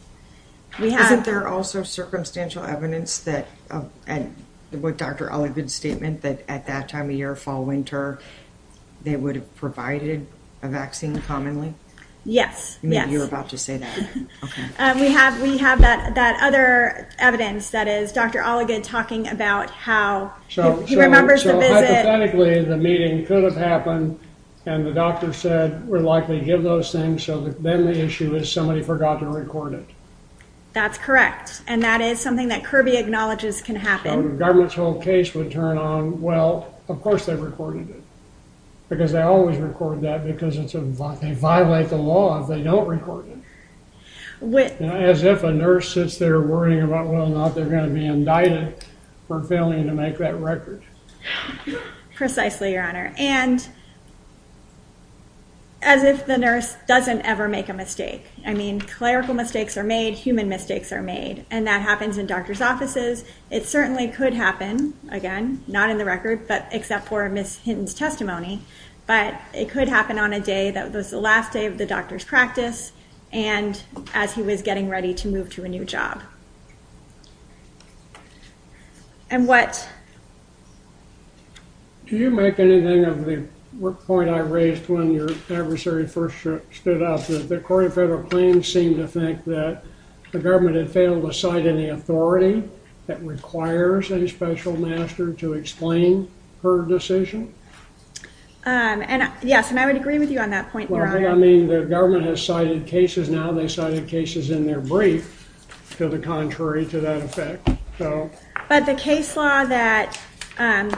We have... But there are also circumstantial evidence that Dr. Olin did statement that at that time of year, fall, winter, they would have provided a vaccine commonly? Yes. You were about to say that. Okay. We have that other evidence that is Dr. Oligan talking about how he remembers the visit. So hypothetically, the meeting could have happened and the doctor said we're likely to give those things, so then the issue is somebody forgot to record it. That's correct. And that is something that Kirby acknowledges can happen. The government's whole case would turn on, well, of course they recorded it because they always record that because they violate the law if they don't record it. As if a nurse sits there worrying about whether or not they're going to be indicted for failing to make that record. Precisely, Your Honor. And as if the nurse doesn't ever make a mistake. I mean, clerical mistakes are made, human mistakes are made, and that happens in doctor's offices. It certainly could happen, again, not in the records except for Ms. Hinton's testimony, but it could happen on a day that was the last day of the doctor's practice and as he was getting ready to move to a new job. And what? Do you make anything of the point I raised when your adversary first stood up, that according to federal claims seem to think that the government had failed to that requires a special master to explain her decision? Yes, and I would agree with you on that point, Your Honor. Well, I mean, the government has cited cases now and they cited cases in their brief to the contrary to that effect. But the case law that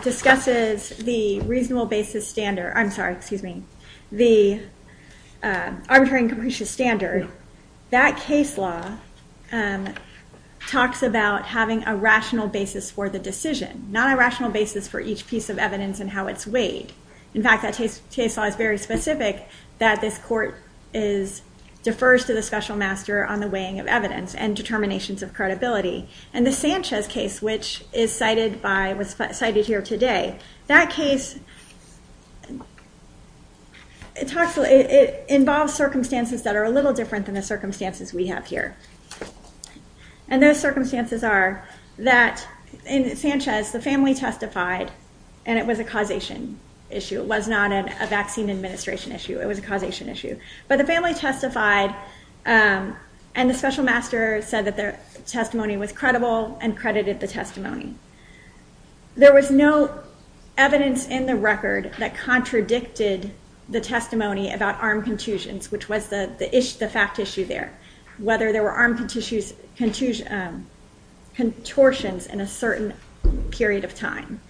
discusses the reasonable basis standard, I'm sorry, excuse me, the arbitrary and conclusive standard, that case law talks about having a rational basis for the decision, not a rational basis for each piece of evidence and how it's weighed. In fact, that case law is very specific that this court defers to the special master on the weighing of evidence and determinations of credibility. And the Sanchez case, which was cited here today, that case involves circumstances that are a little different than the circumstances we have here. And those circumstances are that in Sanchez the family testified and it was a causation issue. It was not a vaccine administration issue. It was a causation issue. But the family testified and the special master said that their testimony was credible and credited the testimony. There was no evidence in the record that contradicted the testimony about arm contusions, which was the fact issue there, whether there were arm contortions in a certain period of time.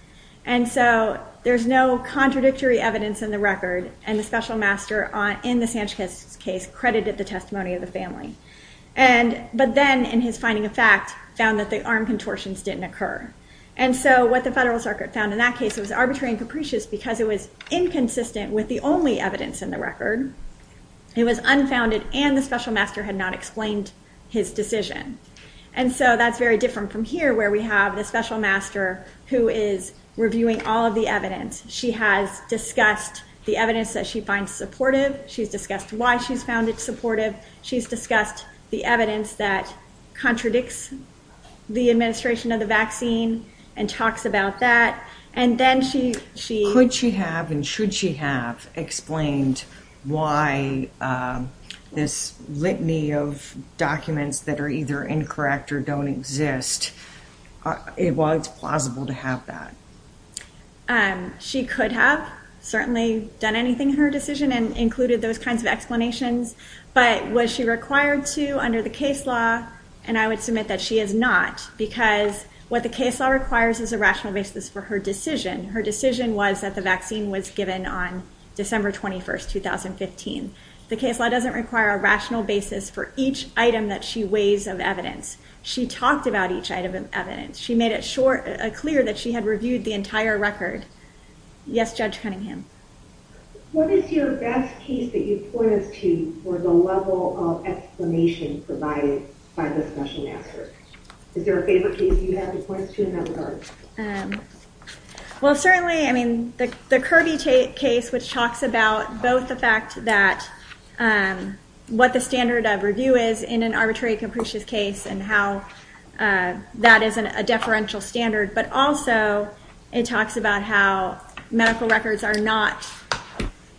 And so there's no contradictory evidence in the record and the special master in the Sanchez case credited the testimony of the family. But then in his finding of fact found that the arm contortions didn't occur. And so what the federal circuit found in that case was arbitrary and capricious because it was inconsistent with the only evidence in the record. It was unfounded and the special master had not explained his decision. And so that's very different from here where we have the special master who is reviewing all of the evidence. She has discussed the evidence that she finds supportive. She's discussed why she found it supportive. She's discussed the evidence that contradicts the administration of the vaccine and talks about that. And then she ‑‑ Could she have and should she have explained why this litany of documents that are either incorrect or don't exist, while it's plausible to have that? She could have certainly done anything in her decision and included those kinds of explanations. But was she required to under the case law? And I would submit that she is not because what the case law requires is a rational basis for her decision. Her decision was that the vaccine was given on December 21, 2015. The case law doesn't require a rational basis for each item that she weighs of evidence. She talked about each item of evidence. She made it clear that she had reviewed the entire record. Yes, Judge Cunningham? What is your best case that you pointed to for the level of explanation provided by the special master? Is there a favorite case you have to point to in that regard? Well, certainly, I mean, the Kirby case which talks about both the fact that what the standard of review is in an arbitrary capricious case and how that is a deferential standard. But also, it talks about how medical records are not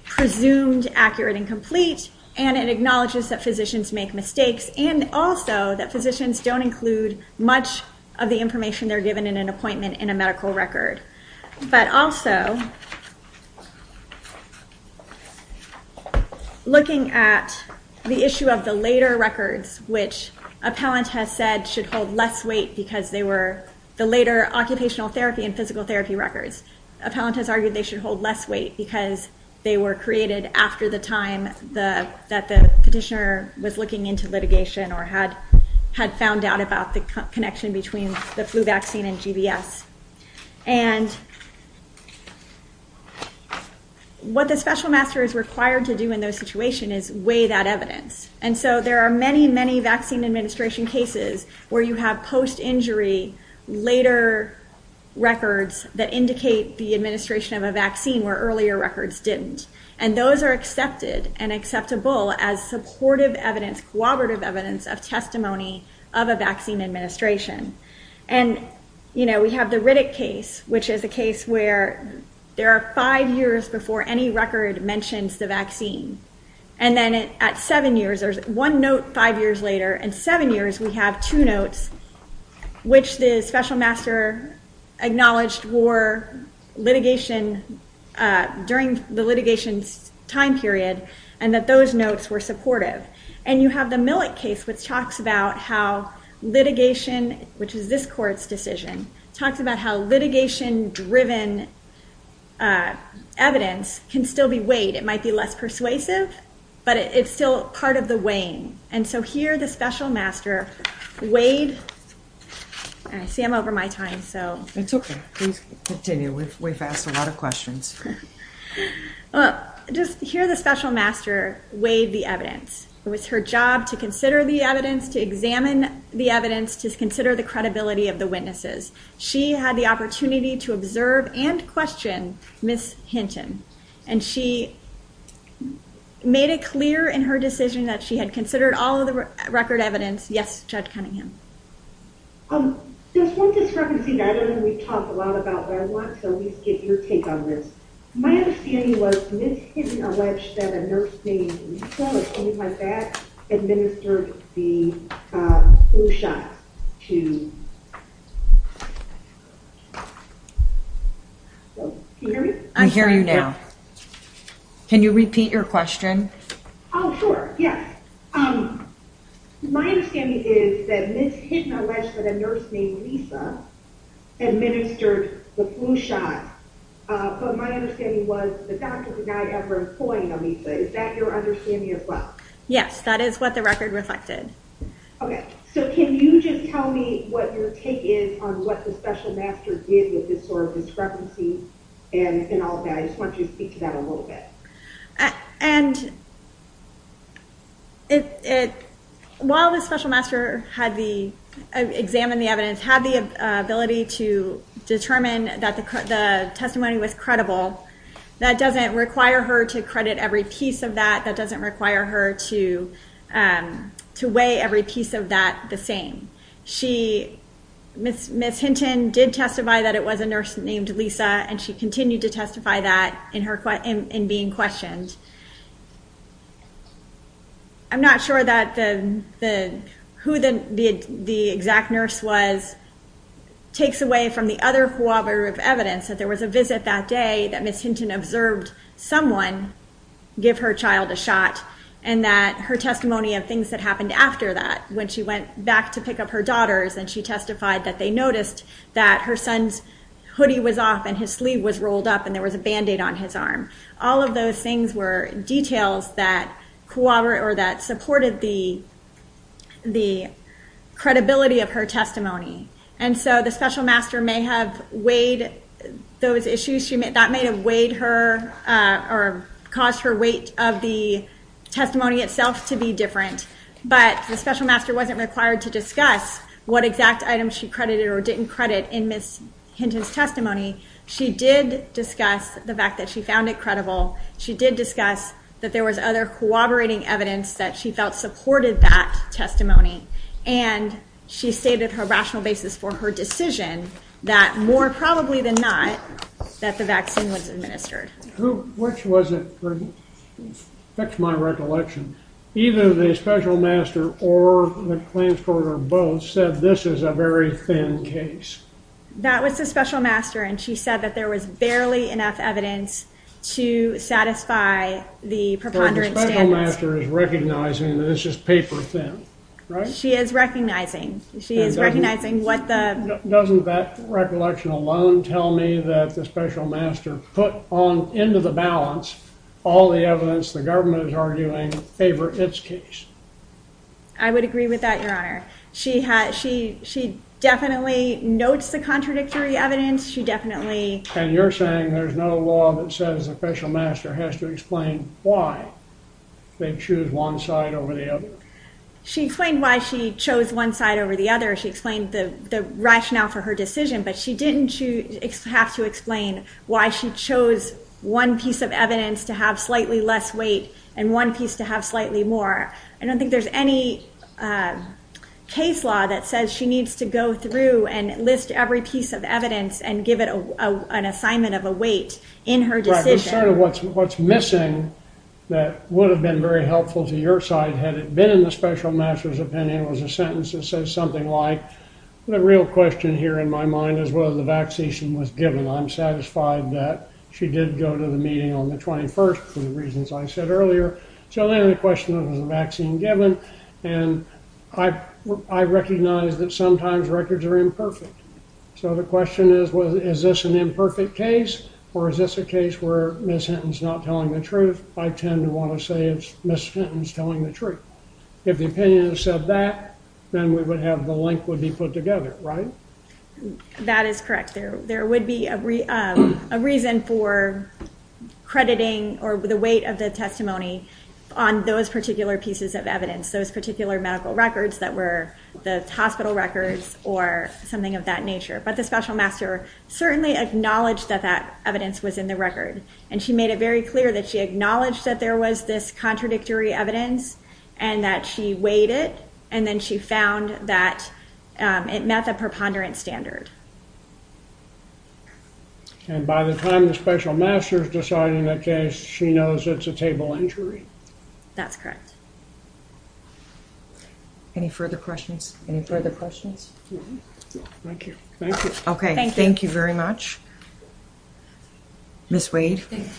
presumed accurate and And it acknowledges that physicians make mistakes. And also, that physicians don't include much of the information they're given in an appointment in a medical record. But also, looking at the issue of the later records, which appellants have said should hold less weight because they were the later occupational therapy and physical therapy records. Appellants have argued they should hold less weight because they were created after the time that the petitioner was looking into litigation or had found out about the connection between the flu vaccine and GBS. And what the special master is required to do in those situations is weigh that evidence. And so, there are many, many vaccine administration cases where you have post injury later records that indicate the administration of a vaccine where earlier records didn't. And those are accepted and acceptable as supportive evidence, cooperative evidence of testimony of a vaccine administration. And, you know, we have the Riddick case, which is a case where there are five years before any record mentions the vaccine. And then at seven years, there's one note five years later. And seven years, we have two notes, which the special master acknowledged were litigation during the litigation time period and that those notes were supportive. And you have the Millett case, which talks about how litigation, which is this court's decision, talks about how litigation-driven evidence can still be weighed. It might be less persuasive, but it's still part of the weighing. And so, here, the special master weighs, and I see I'm over my time, so. It's okay. We can continue. We've asked a lot of questions. Just here, the special master weighed the evidence. It was her job to consider the evidence, to examine the evidence, to consider the credibility of the witnesses. She had the opportunity to observe and question Ms. Hinton. And she made it clear in her decision that she had considered all of the record evidence. Yes, Judge Cunningham. Just one discrepancy that I don't know we've talked a lot about, but I want to at least get your take on this. My understanding was Ms. Hinton alleged that a nurse named Michelle, who came in my back, administered the flu shot to... You hear me? I hear you now. Can you repeat your question? Oh, sure. Yes. My understanding is that Ms. Hinton alleged that a nurse named Lisa administered the flu shot. But my understanding was the doctor was not ever employing a Lisa. Is that your understanding as well? Yes, that is what the record reflected. Okay. So, can you just tell me what your take is on what the special master did with this sort of discrepancy and all of that? I just want you to speak to that a little bit. And while the special master examined the evidence, had the ability to determine that the testimony was credible, that doesn't require her to credit every piece of that. That doesn't require her to weigh every piece of that the same. Ms. Hinton did testify that it was a nurse named Lisa, and she continued to testify that the nurse was not being questioned. I'm not sure that who the exact nurse was takes away from the other cooperative evidence that there was a visit that day that Ms. Hinton observed someone give her child a shot, and that her testimony of things that happened after that, when she went back to pick up her daughters and she testified that they noticed that her son's hoodie was off and his sleeve was rolled up and there was a band-aid on his arm. All of those things were details that supported the credibility of her testimony. And so the special master may have weighed those issues. That may have weighed her or caused her weight of the testimony itself to be different. But the special master wasn't required to discuss what exact items she credited or didn't credit in Ms. Hinton's testimony. She did discuss the fact that she found it credible. She did discuss that there was other cooperating evidence that she felt supported that testimony. And she stated her rational basis for her decision that more probably than not, that the vaccine was administered. Which wasn't true. That's my recollection. Either the special master or the transporter both said this is a very thin case. That was the special master and she said that there was barely enough evidence to satisfy the preponderance. The special master is recognizing that it's just paper thin. Right? She is recognizing. She is recognizing what the... Doesn't that recollection alone tell me that the special master put on, into the balance, all the evidence the government is arguing favor its case? I would agree with that, your honor. She definitely notes the contradictory evidence. She definitely... And you're saying there's no law that says the special master has to explain why they choose one side over the other? She claimed why she chose one side over the other. She explained the rationale for her decision, but she didn't have to explain why she chose one piece of evidence to have slightly less weight and one piece to have slightly more. I don't think there's any case law that says she needs to go through and list every piece of evidence and give it an assignment of a weight in her decision. What's missing that would have been very helpful to your side had it been in the special master's opinion was a sentence that says something like, the real question here in my mind is whether the vaccine was given. I'm satisfied that she did go to the meeting on the 21st for the reasons I said earlier. So then the question was, was the vaccine given? And I recognize that sometimes records are imperfect. So the question is, well, is this an imperfect case or is this a case where Ms. Hinton's not telling the truth? I tend to want to say it's Ms. Hinton's telling the truth. If the opinion said that, then we would have the link would be put together, right? That is correct. There would be a reason for crediting or the weight of the testimony on those particular pieces of evidence, those particular medical records that were the hospital records or something of that nature. But the special master certainly acknowledged that that evidence was in the record. And she made it very clear that she acknowledged that there was this contradictory evidence and that she weighed it. And then she found that it met the preponderance standard. And by the time the special master is deciding that case, she knows it's a table injury. That's correct. Any further questions? Any further questions? No. Thank you. Thank you. Okay. Thank you very much, Ms. Wade. Thank you.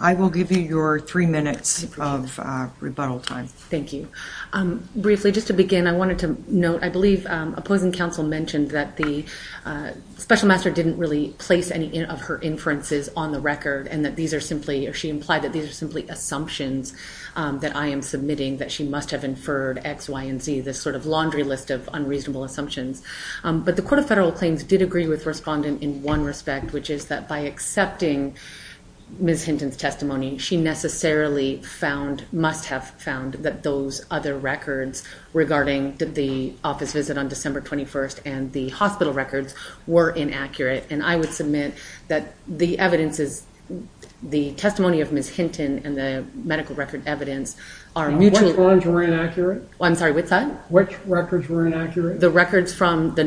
I will give you your three minutes of rebuttal time. Thank you. Briefly, just to begin, I wanted to note, I believe, a point when counsel mentioned that the special master didn't really place any of her inferences on the record and that these are simply, if she implied that these are simply assumptions that I am submitting that she must have inferred X, Y, and Z, this sort of laundry list of unreasonable assumptions. But the Court of Federal Claims did agree with respondent in one respect, which is that by accepting Ms. Hinton's testimony, she necessarily found, must have found, that those other records regarding the offices on December 21st and the hospital records were inaccurate. And I would submit that the evidence is, the testimony of Ms. Hinton and the medical record evidence are... Which ones were inaccurate? I'm sorry, what's that? Which records were inaccurate? The records from the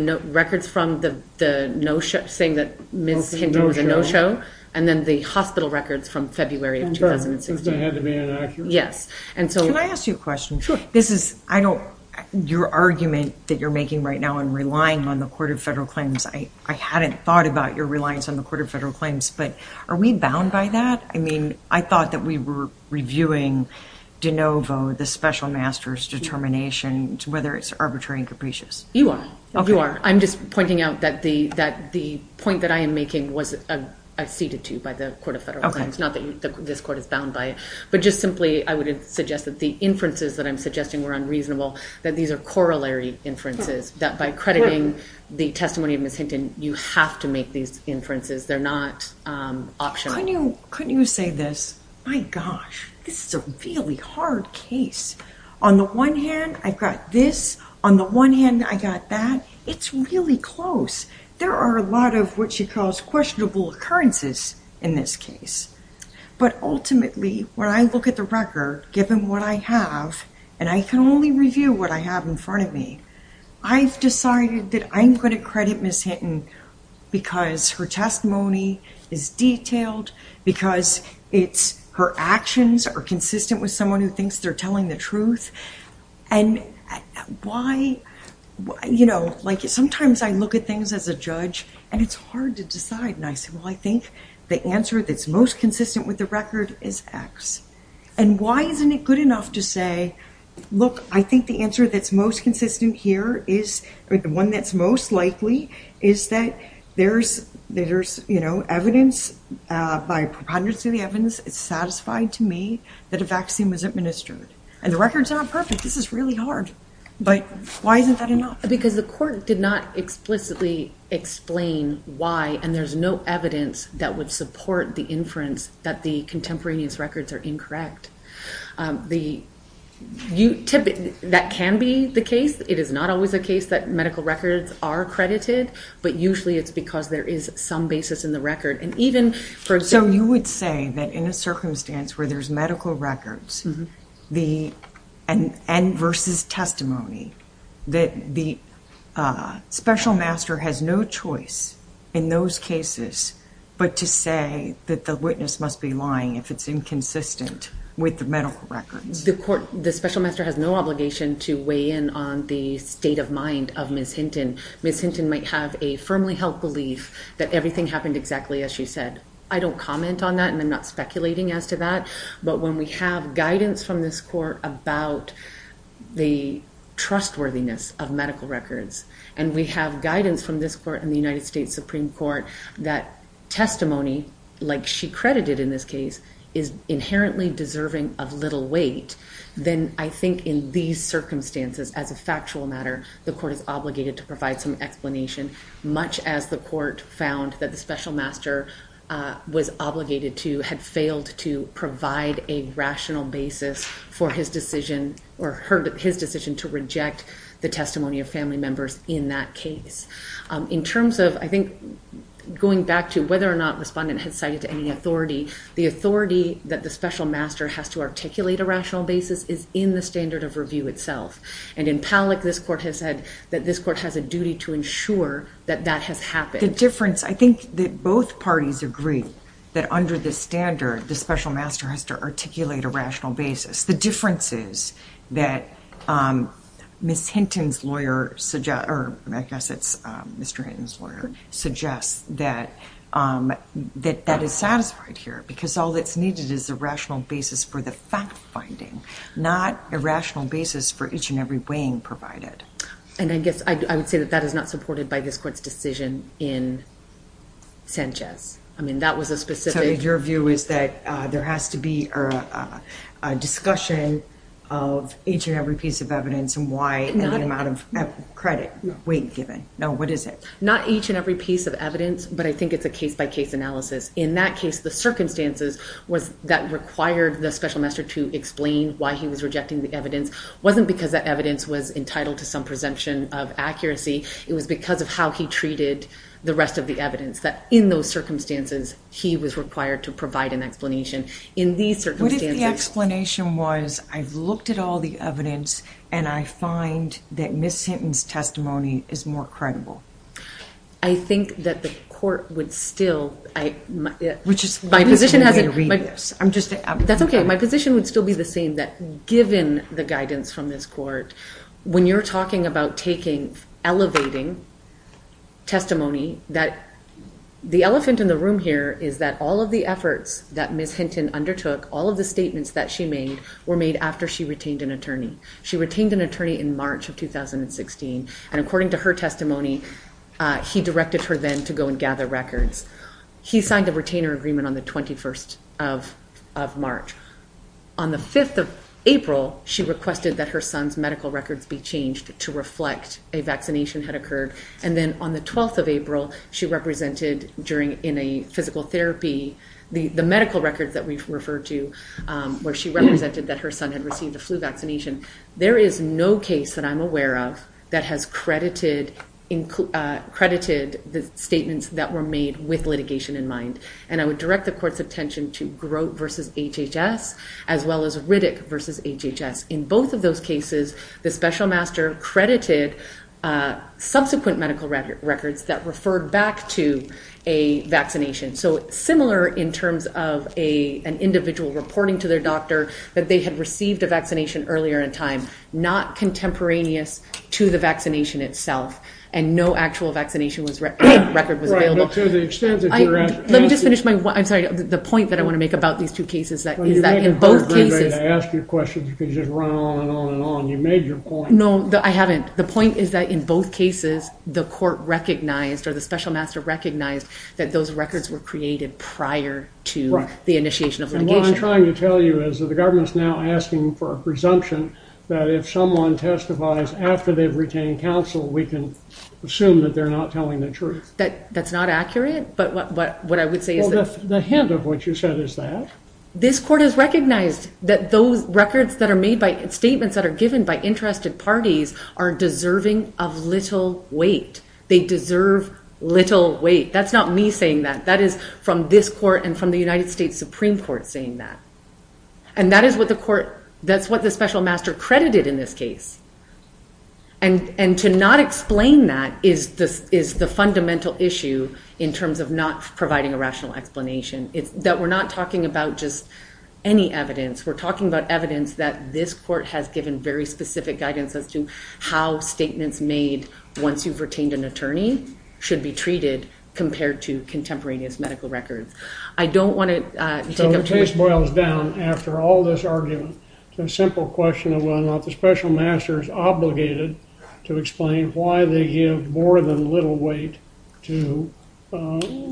no-show, saying that Ms. Hinton was a no-show. And then the hospital records from February of 2016. Yes. And so... Can I ask you a question? Sure. This is, I don't, your argument that you're making right now in relying on the Court of Federal Claims, I hadn't thought about your reliance on the Court of Federal Claims, but are we bound by that? I mean, I thought that we were reviewing de novo, the special master's determination, whether it's arbitrary and capricious. You are. You are. I'm just pointing out that the point that I am making was acceded to by the Court of Federal Claims, not that this Court is bound by it. But just simply, I would suggest that the inferences that I'm suggesting were unreasonable, that these are corollary inferences, that by crediting the testimony of Ms. Hinton, you have to make these inferences, they're not optional. Couldn't you say this, my gosh, this is a really hard case. On the one hand, I got this. On the one hand, I got that. It's really close. There are a lot of what you call questionable occurrences in this case. But ultimately, when I look at the record, given what I have, and I can only review what I have in front of me, I've decided that I'm going to credit Ms. Hinton because her testimony is detailed, because her actions are consistent with someone who thinks they're telling the truth. And why, you know, like sometimes I look at things as a judge, and it's hard to decide. And I say, well, I think the answer that's most consistent with the record is X. And why isn't it good enough to say, look, I think the answer that's most consistent here is, or the one that's most likely, is that there's, you know, evidence, by preponderance of the evidence, it's satisfied to me that a vaccine was administered. And the record's not perfect, this is really hard. But why isn't that enough? Because the court did not explicitly explain why, and there's no evidence that would support the inference that the contemporary's records are incorrect. That can be the case. It is not always the case that medical records are credited, but usually it's because there is some basis in the record. So you would say that in a circumstance where there's medical records, and versus testimony, that the special master has no choice in those cases but to say that the witness must be with the medical records. The court, the special master has no obligation to weigh in on the state of mind of Ms. Hinton. Ms. Hinton might have a firmly held belief that everything happened exactly as she said. I don't comment on that, and I'm not speculating as to that. But when we have guidance from this court about the trustworthiness of medical records, and we have guidance from this court and the United States Supreme Court that testimony, like she credited in this case, is inherently deserving of little weight, then I think in these circumstances, as a factual matter, the court is obligated to provide some explanation, much as the court found that the special master was obligated to, had failed to provide a rational basis for his decision to reject the testimony of family members in that case. In terms of, I think, going back to whether or not the respondent has cited any authority, the authority that the special master has to articulate a rational basis is in the standard of review itself. And in Palak, this court has said that this court has a duty to ensure that that has happened. The difference, I think that both parties agree that under the standard, the special master has to articulate a rational basis. The differences that Ms. Hinton's lawyer suggests, or I guess it's Mr. Hinton's lawyer, suggests that that is satisfied here, because all that's needed is a rational basis for the fact-finding, not a rational basis for each and every weighing provided. And I guess I would say that that is not supported by this court's decision in Sanchez. I mean, that was a specific... Your view is that there has to be a discussion of each and every piece of evidence and why any amount of credit weight is given. No, what is it? Not each and every piece of evidence, but I think it's a case-by-case analysis. In that case, the circumstances that required the special master to explain why he was rejecting the evidence wasn't because the evidence was entitled to some presumption of accuracy. It was because of how he treated the rest of the evidence, that in those circumstances he was required to provide an explanation. In these circumstances... What if the explanation was, I've looked at all the evidence and I find that Ms. Hinton's testimony is more credible? I think that the court would still... Which is... My position... I'm just... That's okay. My position would still be the same, that given the guidance from this court, when you're talking about taking, elevating testimony, that the elephant in the room here is that all of the efforts that Ms. Hinton undertook, all of the statements that she made, were made after she retained an attorney. She retained an attorney in March of 2016, and according to her testimony, he directed her then to go and gather records. He signed the retainer agreement on the 21st of March. On the 5th of April, she requested that her son's medical records be changed to reflect a vaccination had occurred. And then on the 12th of April, she represented during... In a physical therapy, the medical records that we've referred to, where she represented that her son had received a flu vaccination. There is no case that I'm aware of that has credited the statements that were made with litigation in mind. And I would direct the court's attention to Grote versus HHS, as well as Riddick versus HHS. In both of those cases, the special master credited subsequent medical records that referred back to a vaccination. So, similar in terms of an individual reporting to their doctor that they had received the vaccination earlier in time, not contemporaneous to the vaccination itself. And no actual vaccination record was available. Let me just finish my... I'm sorry. The point that I want to make about these two cases is that in both cases... Well, you haven't heard anybody ask you questions because you've run on and on and on. You've made your point. No, I haven't. The point is that in both cases, the court recognized or the special master recognized that those records were created prior to the initiation of litigation. And what I'm trying to tell you is that the government's now asking for a presumption that if someone testifies after they've retained counsel, we can assume that they're not telling the truth. That's not accurate, but what I would say is that... Well, the hint of what you said is that. This court has recognized that those records that are made by statements that are given by interested parties are deserving of little weight. They deserve little weight. That's not me saying that. That is from this court and from the United States Supreme Court saying that. And that is what the court... That's what the special master credited in this case. And to not explain that is the fundamental issue in terms of not providing a rational explanation. That we're not talking about just any evidence. We're talking about evidence that this court has given very specific guidance as to how statements made once you've retained an attorney should be treated compared to contemporaneous medical records. I don't want to... So the case boils down after all this argument. It's a simple question of whether or not the special master is obligated to explain why they give more than little weight to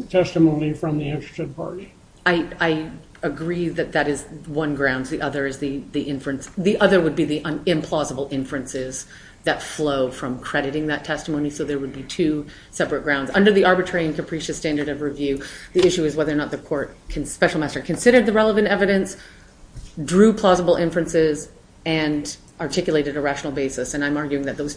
testimony from the interested party. I agree that that is one ground. The other would be the implausible inferences that flow from crediting that testimony. So there would be two separate grounds. Under the arbitrary and capricious standard of review, the issue is whether or not the special master considered the relevant evidence, drew plausible inferences, and articulated a rational basis. And I'm arguing that those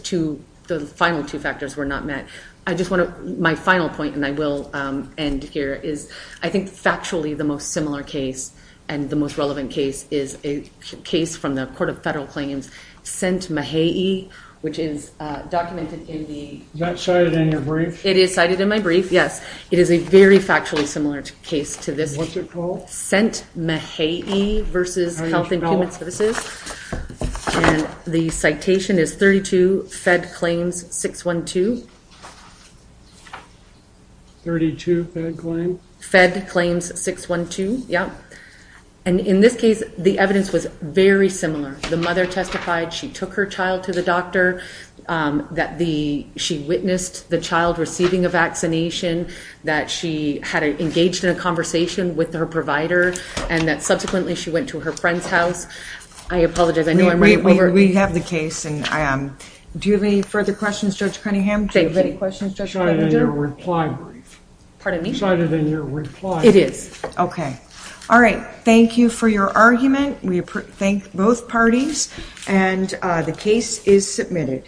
final two factors were not met. I just want to... My final point, and I will end here, is I think factually the most similar case and the most relevant case is a case from the Court of Federal Claims sent to Mahe'i, which is documented in the... Is that cited in your brief? It is cited in my brief, yes. It is a very factually similar case to this. What's it called? Sent, Mahe'i v. Health and Human Services. And the citation is 32, Fed Claims 612. 32, Fed Claims? Fed Claims 612, yes. And in this case, the evidence was very similar. The mother testified she took her child to the doctor, that she witnessed the child receiving a vaccination, that she had engaged in a conversation with her provider, and that subsequently she went to her friend's house. I apologize. I know I'm... We have the case. Do you have any further questions, Judge Cunningham? Do you have any questions, Judge Cunningham? It's harder than your reply. Pardon me? It's harder than your reply. It is. Okay. All right. Thank you for your argument. We thank both parties. And the case is submitted.